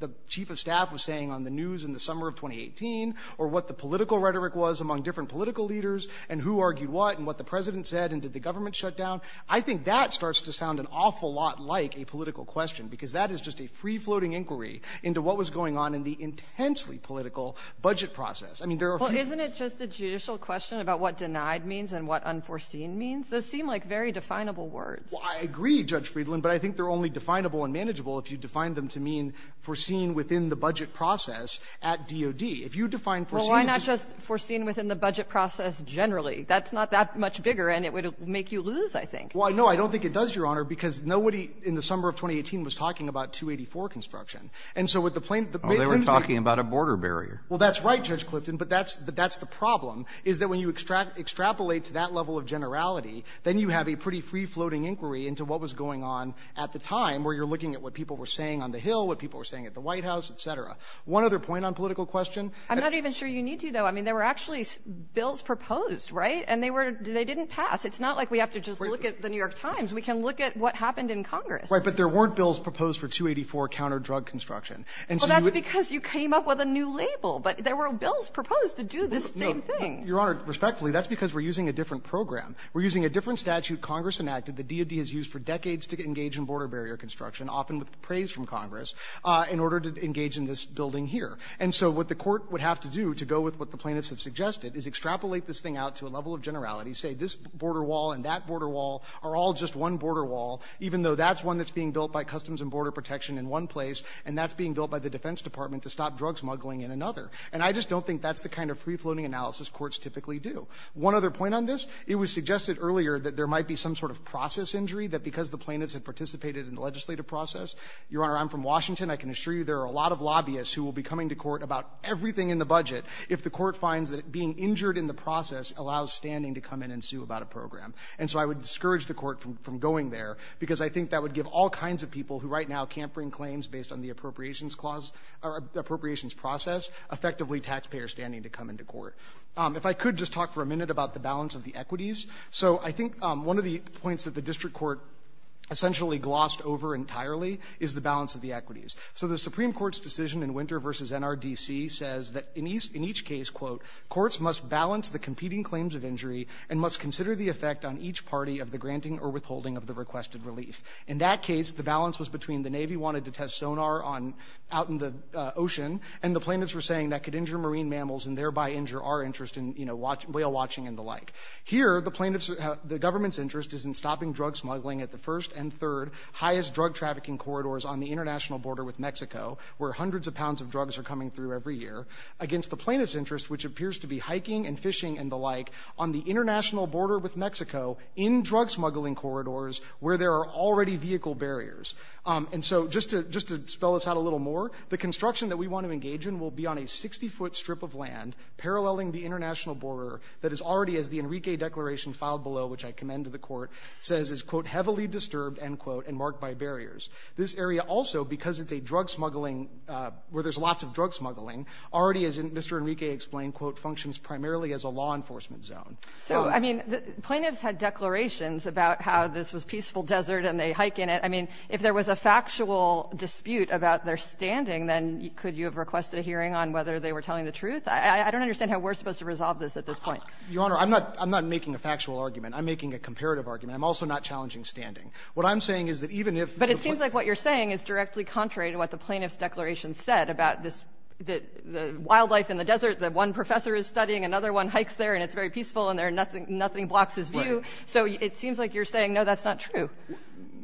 the chief of staff was saying on the news in the summer of 2018, or what the political rhetoric was among different political leaders, and who argued what, and what the president said, and did the government shut down? I think that starts to sound an awful lot like a political question, because that is just a free-floating inquiry into what was going on in the intensely political budget process. I mean, there are – Well, isn't it just a judicial question about what denied means and what unforeseen means? Those seem like very definable words. Well, I agree, Judge Friedland, but I think they're only definable and manageable if you define them to mean foreseen within the budget process at DOD. If you define – Well, why not just foreseen within the budget process generally? That's not that much bigger, and it would make you lose, I think. Well, no, I don't think it does, Your Honor, because nobody in the summer of 2018 was talking about 284 construction. And so with the plane – Oh, they were talking about a border barrier. Well, that's right, Judge Clifton, but that's the problem, is that when you extrapolate to that level of generality, then you have a pretty free-floating inquiry into what was going on at the time, where you're looking at what people were saying on the Hill, what people were saying at the White House, et cetera. One other point on political question – I'm not even sure you need to, though. I mean, they were actually bills proposed, right? And they didn't pass. It's not like we have to just look at The New York Times. We can look at what happened in Congress. Right, but there weren't bills proposed for 284 counter-drug construction. Well, that's because you came up with a new label, but there were bills proposed to do this same thing. No, Your Honor, respectfully, that's because we're using a different program. We're using a different statute Congress enacted that DOD has used for decades to engage in border barrier construction, often with praise from Congress, in order to engage in this building here. And so what the court would have to do to go with what the plaintiffs have suggested is extrapolate this thing out to a level of generality, say this border wall and that border wall are all just one border wall, even though that's one that's being built by Customs and Border Protection in one place, and that's being built by the Defense Department to stop drug smuggling in another. And I just don't think that's the kind of free-floating analysis courts typically do. One other point on this – it was suggested earlier that there might be some sort of process injury, that because the plaintiffs have participated in the legislative process – Your Honor, I'm from Washington. I can assure you there are a lot of lobbyists who will be coming to court about everything in the budget if the court finds that being injured in the process allows standing to come in and sue about a program. And so I would discourage the court from going there, because I think that would give all kinds of people who right now can't bring claims based on the appropriations clause – or appropriations process effectively taxpayer standing to come into court. If I could just talk for a minute about the balance of the equities. So I think one of the points that the district court essentially glossed over entirely is the Supreme Court's decision in Winter v. NRDC says that in each case, quote, courts must balance the competing claims of injury and must consider the effect on each party of the granting or withholding of the requested release. In that case the balance was between the Navy wanted to test sonar out in the ocean and the plaintiffs were saying that could injure marine mammals and thereby injure our interest in whale watching and the like. Here, the government's interest is in stopping drug smuggling at the first and third highest drug trafficking corridors on the international border with Mexico where hundreds of pounds of drugs are coming through every year against the plaintiff's interest, which appears to be hiking and fishing and the like on the international border with Mexico in drug smuggling corridors where there are already vehicle barriers. And so just to spell this out a little more, the construction that we want to engage in will be on a 60-foot strip of land paralleling the international border that is already, as the Enrique Declaration filed below, which I commend to the court, says is, quote, heavily disturbed, end quote, and marked by barriers. This area also, because it's a drug smuggling where there's lots of drug smuggling, already, as Mr. Enrique explained, quote, functions primarily as a law enforcement zone. So, I mean, the plaintiffs had declarations about how this was peaceful desert and they hike in it. I mean, if there was a factual dispute about their standing, then could you have requested a hearing on whether they were telling the truth? I don't understand how we're supposed to resolve this at this point. Your Honor, I'm not making a factual argument. I'm making a comparative argument. I'm also not challenging standing. What I'm saying is that even if... But it seems like what you're saying is directly contrary to what the plaintiff's declaration said about the wildlife in the desert, that one professor is studying, another one hikes there and it's very peaceful and nothing blocks his view. So it seems like you're saying, no, that's not true.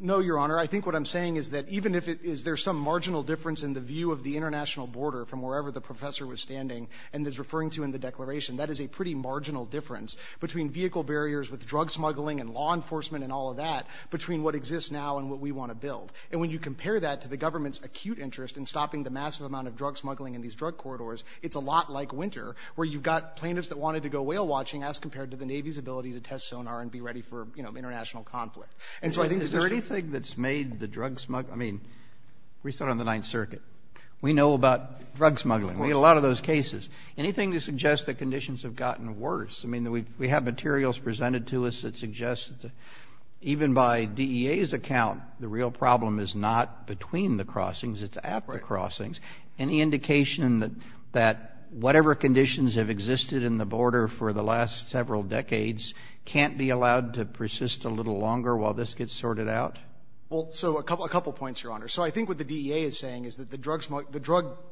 No, Your Honor. I think what I'm saying is that even if there's some marginal difference in the view of the international border from wherever the professor was standing and is referring to in the declaration, that is a pretty marginal difference between vehicle barriers with drug smuggling and law enforcement and all of that, between what exists now and what we want to build. And when you compare that to the government's acute interest in stopping the massive amount of drug smuggling in these drug corridors, it's a lot like winter, where you've got plaintiffs that wanted to go whale watching as compared to the Navy's ability to test sonar and be ready for international conflict. And so I think... Is there anything that's made the drug smuggling... I mean, we started on the 9th Circuit. We know about drug smuggling. We had a lot of those cases. Anything to suggest that conditions have gotten worse? I mean, we have materials presented to us that suggest that even by DEA's account, the real problem is not between the crossings, it's at the crossings. Any indication that whatever conditions have existed in the border for the last several decades can't be allowed to persist a little longer while this gets sorted out? Well, so a couple points, Your Honor. So I think what the DEA is saying is that the drug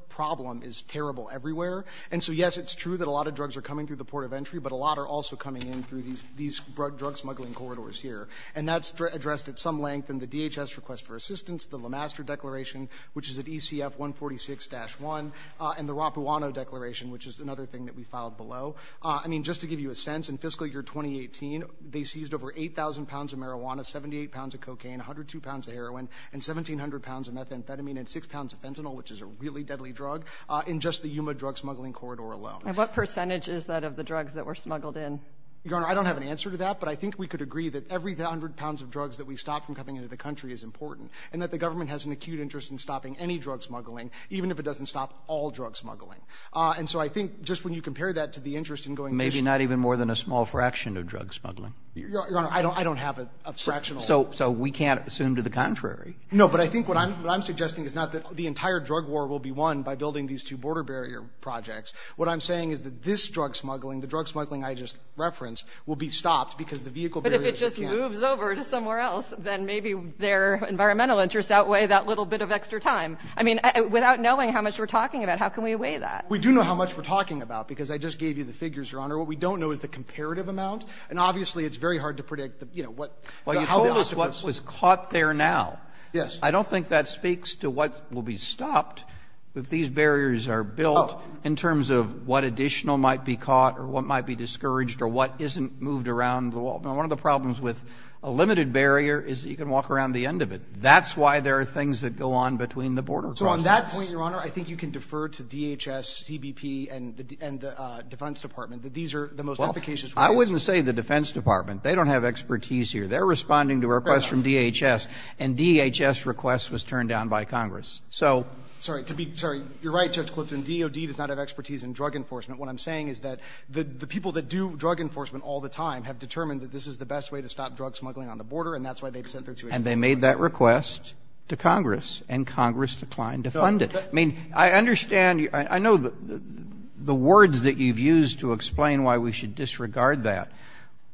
problem is terrible everywhere. And so yes, it's true that a lot of drugs are coming through the port of entry, but a lot are also coming in through these drug smuggling corridors here. And that's addressed at some length in the DHS Request for Assistance, the Le Master Declaration, which is at ECF 146-1, and the Rapuano Declaration, which is another thing that we filed below. I mean, just to give you a sense, in fiscal year 2018, they seized over 8,000 pounds of marijuana, 78 pounds of cocaine, 102 pounds of heroin, and 1,700 pounds of methamphetamine and 6 pounds of fentanyl, which is a really deadly drug, in just the Yuma drug smuggling corridor alone. And what percentage is that of the drugs that were smuggled in? Your Honor, I don't have an answer to that, but I think we could agree that every hundred pounds of drugs that we've stopped from coming into the country is important, and that the government has an acute interest in stopping any drug smuggling, even if it doesn't stop all drug smuggling. And so I think just when you compare that to the interest in going... Maybe not even more than a small fraction of drug smuggling. Your Honor, I don't have a fraction. So we can't assume to the contrary. No, but I think what I'm suggesting is not that the entire drug war will be won by building these two border barrier projects. What I'm saying is that this drug smuggling, the drug smuggling I just referenced, will be stopped because the vehicle barriers... But if it just moves over to somewhere else, then maybe their environmental interests outweigh that little bit of extra time. I mean, without knowing how much we're talking about, how can we weigh that? We do know how much we're talking about, because I just gave you the figures, Your Honor. What we don't know is the comparative amount, and obviously it's very hard to predict, you know, what... Well, you told us what was caught there now. Yes. I don't think that speaks to what will be stopped if these barriers are built in terms of what additional might be caught, or what might be discouraged, or what isn't moved around the wall. Now, one of the problems with a limited barrier is that you can walk around the end of it. That's why there are things that go on between the border projects. So on that point, Your Honor, I think you can defer to DHS, CBP, and the Defense Department. These are the most efficacious... Well, I wouldn't say the Defense Department. They don't have expertise here. They're responding to requests from DHS, and DHS requests was turned down by Congress. So... Sorry, you're right, Judge Clifton. DOD does not have expertise in drug enforcement. What I'm saying is that the people that do drug enforcement all the time have determined that this is the best way to stop drug smuggling on the border, and that's why they've sent their... And they made that request to Congress, and Congress declined to fund it. I mean, I understand... I know the words that you've used to explain why we should disregard that,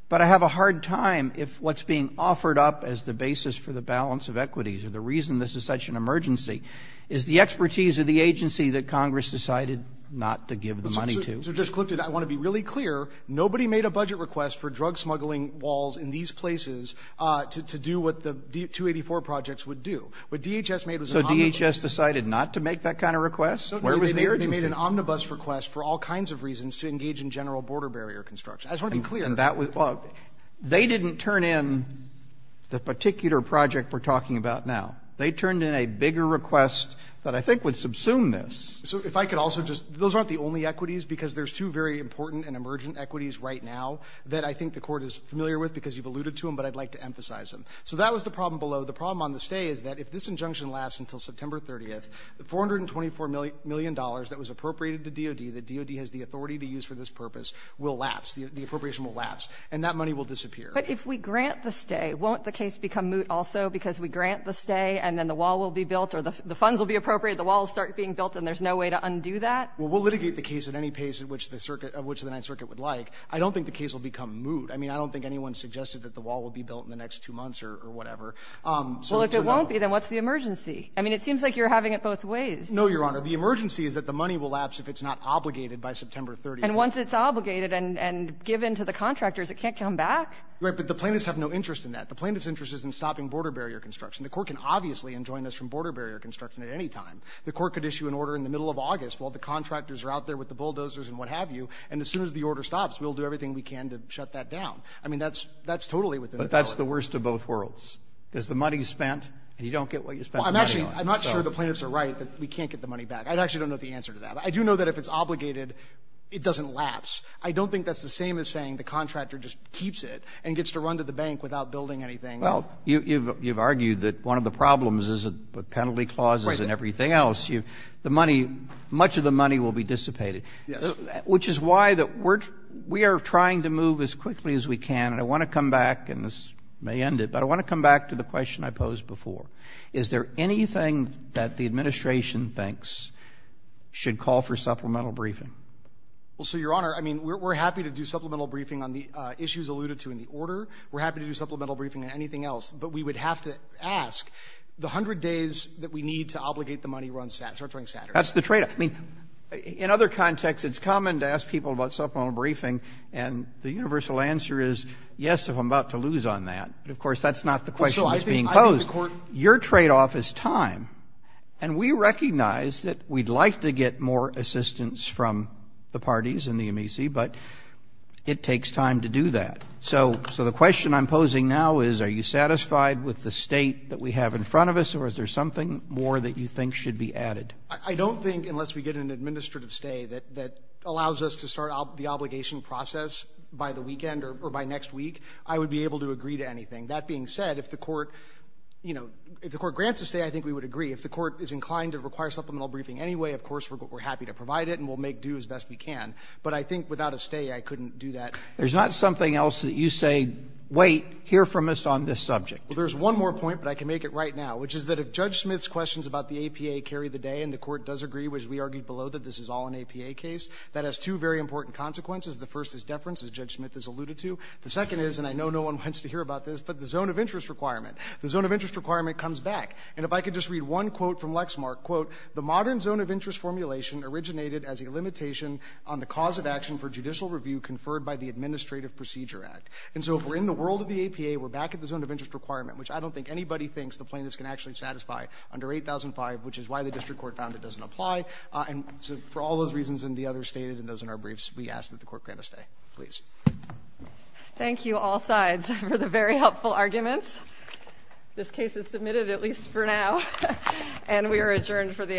but I have a hard time if what's being offered up as the basis for the balance of equities or the reason this is such an emergency is the expertise of the agency that Congress decided not to give the money to. So, Judge Clifton, I want to be really clear. Nobody made a budget request for drug smuggling walls in these places to do what the 284 projects would do. What DHS made was... So DHS decided not to make that kind of request? They made an omnibus request for all kinds of reasons to engage in general border barrier construction. I just want to be clear. They didn't turn in the particular project we're talking about now. They turned in a bigger request that I think would subsume this. So if I could also just... Those aren't the only equities because there's two very important and emergent equities right now that I think the Court is familiar with because you've alluded to them, but I'd like to emphasize them. So that was the problem below. The problem on the stay is that if this injunction lasts until September 30th, the $424 million that was appropriated to DOD, that DOD has the authority to use for this purpose, will lapse. The appropriation will lapse and that money will disappear. But if we grant the stay, won't the case become moot also because we grant the stay and then the wall will be built or the funds will be appropriated, the wall will start being built and there's no way to undo that? Well, we'll litigate the case at any pace of which the Ninth Circuit would like. I don't think the case will become moot. I mean, I don't think anyone suggested that the wall will be built in the next two months or whatever. Well, if it won't be, then what's the emergency? I mean, it seems like you're having it both ways. No, Your Honor. The emergency is that the money will lapse if it's not obligated by September 30th. And once it's obligated and given to the contractors, it can't come back? Right, but the plaintiffs have no interest in that. The plaintiff's interest is in stopping border barrier construction. The court can obviously enjoin this from border barrier construction at any time. The court could issue an order in the middle of August while the contractors are out there with the bulldozers and what have you, and as soon as the order stops, we'll do everything we can to shut that down. I mean, that's totally within the law. But that's the worst of both worlds. Because the money spent, you don't get what you spent the money on. I'm not sure the plaintiffs are right that we can't get the money back. I actually don't know the answer to that. I do know that if it's obligated, it doesn't lapse. I don't think that's the same as saying the contractor just keeps it and gets to run to the bank without building anything. Well, you've argued that one of the problems is the penalty clauses and everything else. Much of the money will be dissipated, which is why we are trying to move as quickly as we can. And I want to come back, and this may end it, but I want to come back to the question I posed before. Is there anything that the administration thinks should call for supplemental briefing? Well, sir, your honor, I mean, we're happy to do supplemental briefing on the issues alluded to in the order. We're happy to do supplemental briefing on anything else. But we would have to ask the hundred days that we need to obligate the money on Saturday. That's the trade-off. In other contexts, it's common to ask people about supplemental briefing, and the universal answer is, yes, if I'm about to lose on that. Of course, that's not the question that's being posed. Your trade-off is time. And we recognize that we'd like to get more assistance from the parties and the MEC, but it takes time to do that. So the question I'm posing now is, are you satisfied with the state that we have in front of us, or is there something more that you think should be added? I don't think, unless we get an administrative stay that allows us to start the obligation process by the weekend or by next week, I would be able to agree to anything. That being said, if the Court, you know, if the Court grants a stay, I think we would agree. If the Court is inclined to require supplemental briefing anyway, of course we're happy to provide it, and we'll make due as best we can. But I think without a stay, I couldn't do that. There's not something else that you say, wait, hear from us on this subject. There's one more point, but I can make it right now, which is that if Judge Smith's questions about the APA carry the day, and the Court does agree, as we argued below, that this is all an APA case, that has two very important consequences. The first is deference, as Judge Smith said, and I think everyone wants to hear about this, but the zone of interest requirement. The zone of interest requirement comes back, and if I could just read one quote from Lexmark, quote, the modern zone of interest formulation originated as a limitation on the cause of action for judicial review conferred by the Administrative Procedure Act. And so if we're in the world of the APA, we're back at the zone of interest requirement, which I don't think anybody thinks the plaintiffs can actually satisfy under 8005, which is why the District Court found it doesn't apply, and for all those reasons and the other stays and those in our briefs, we ask that for the very helpful arguments. This case is submitted, at least for now, and we are adjourned for the afternoon.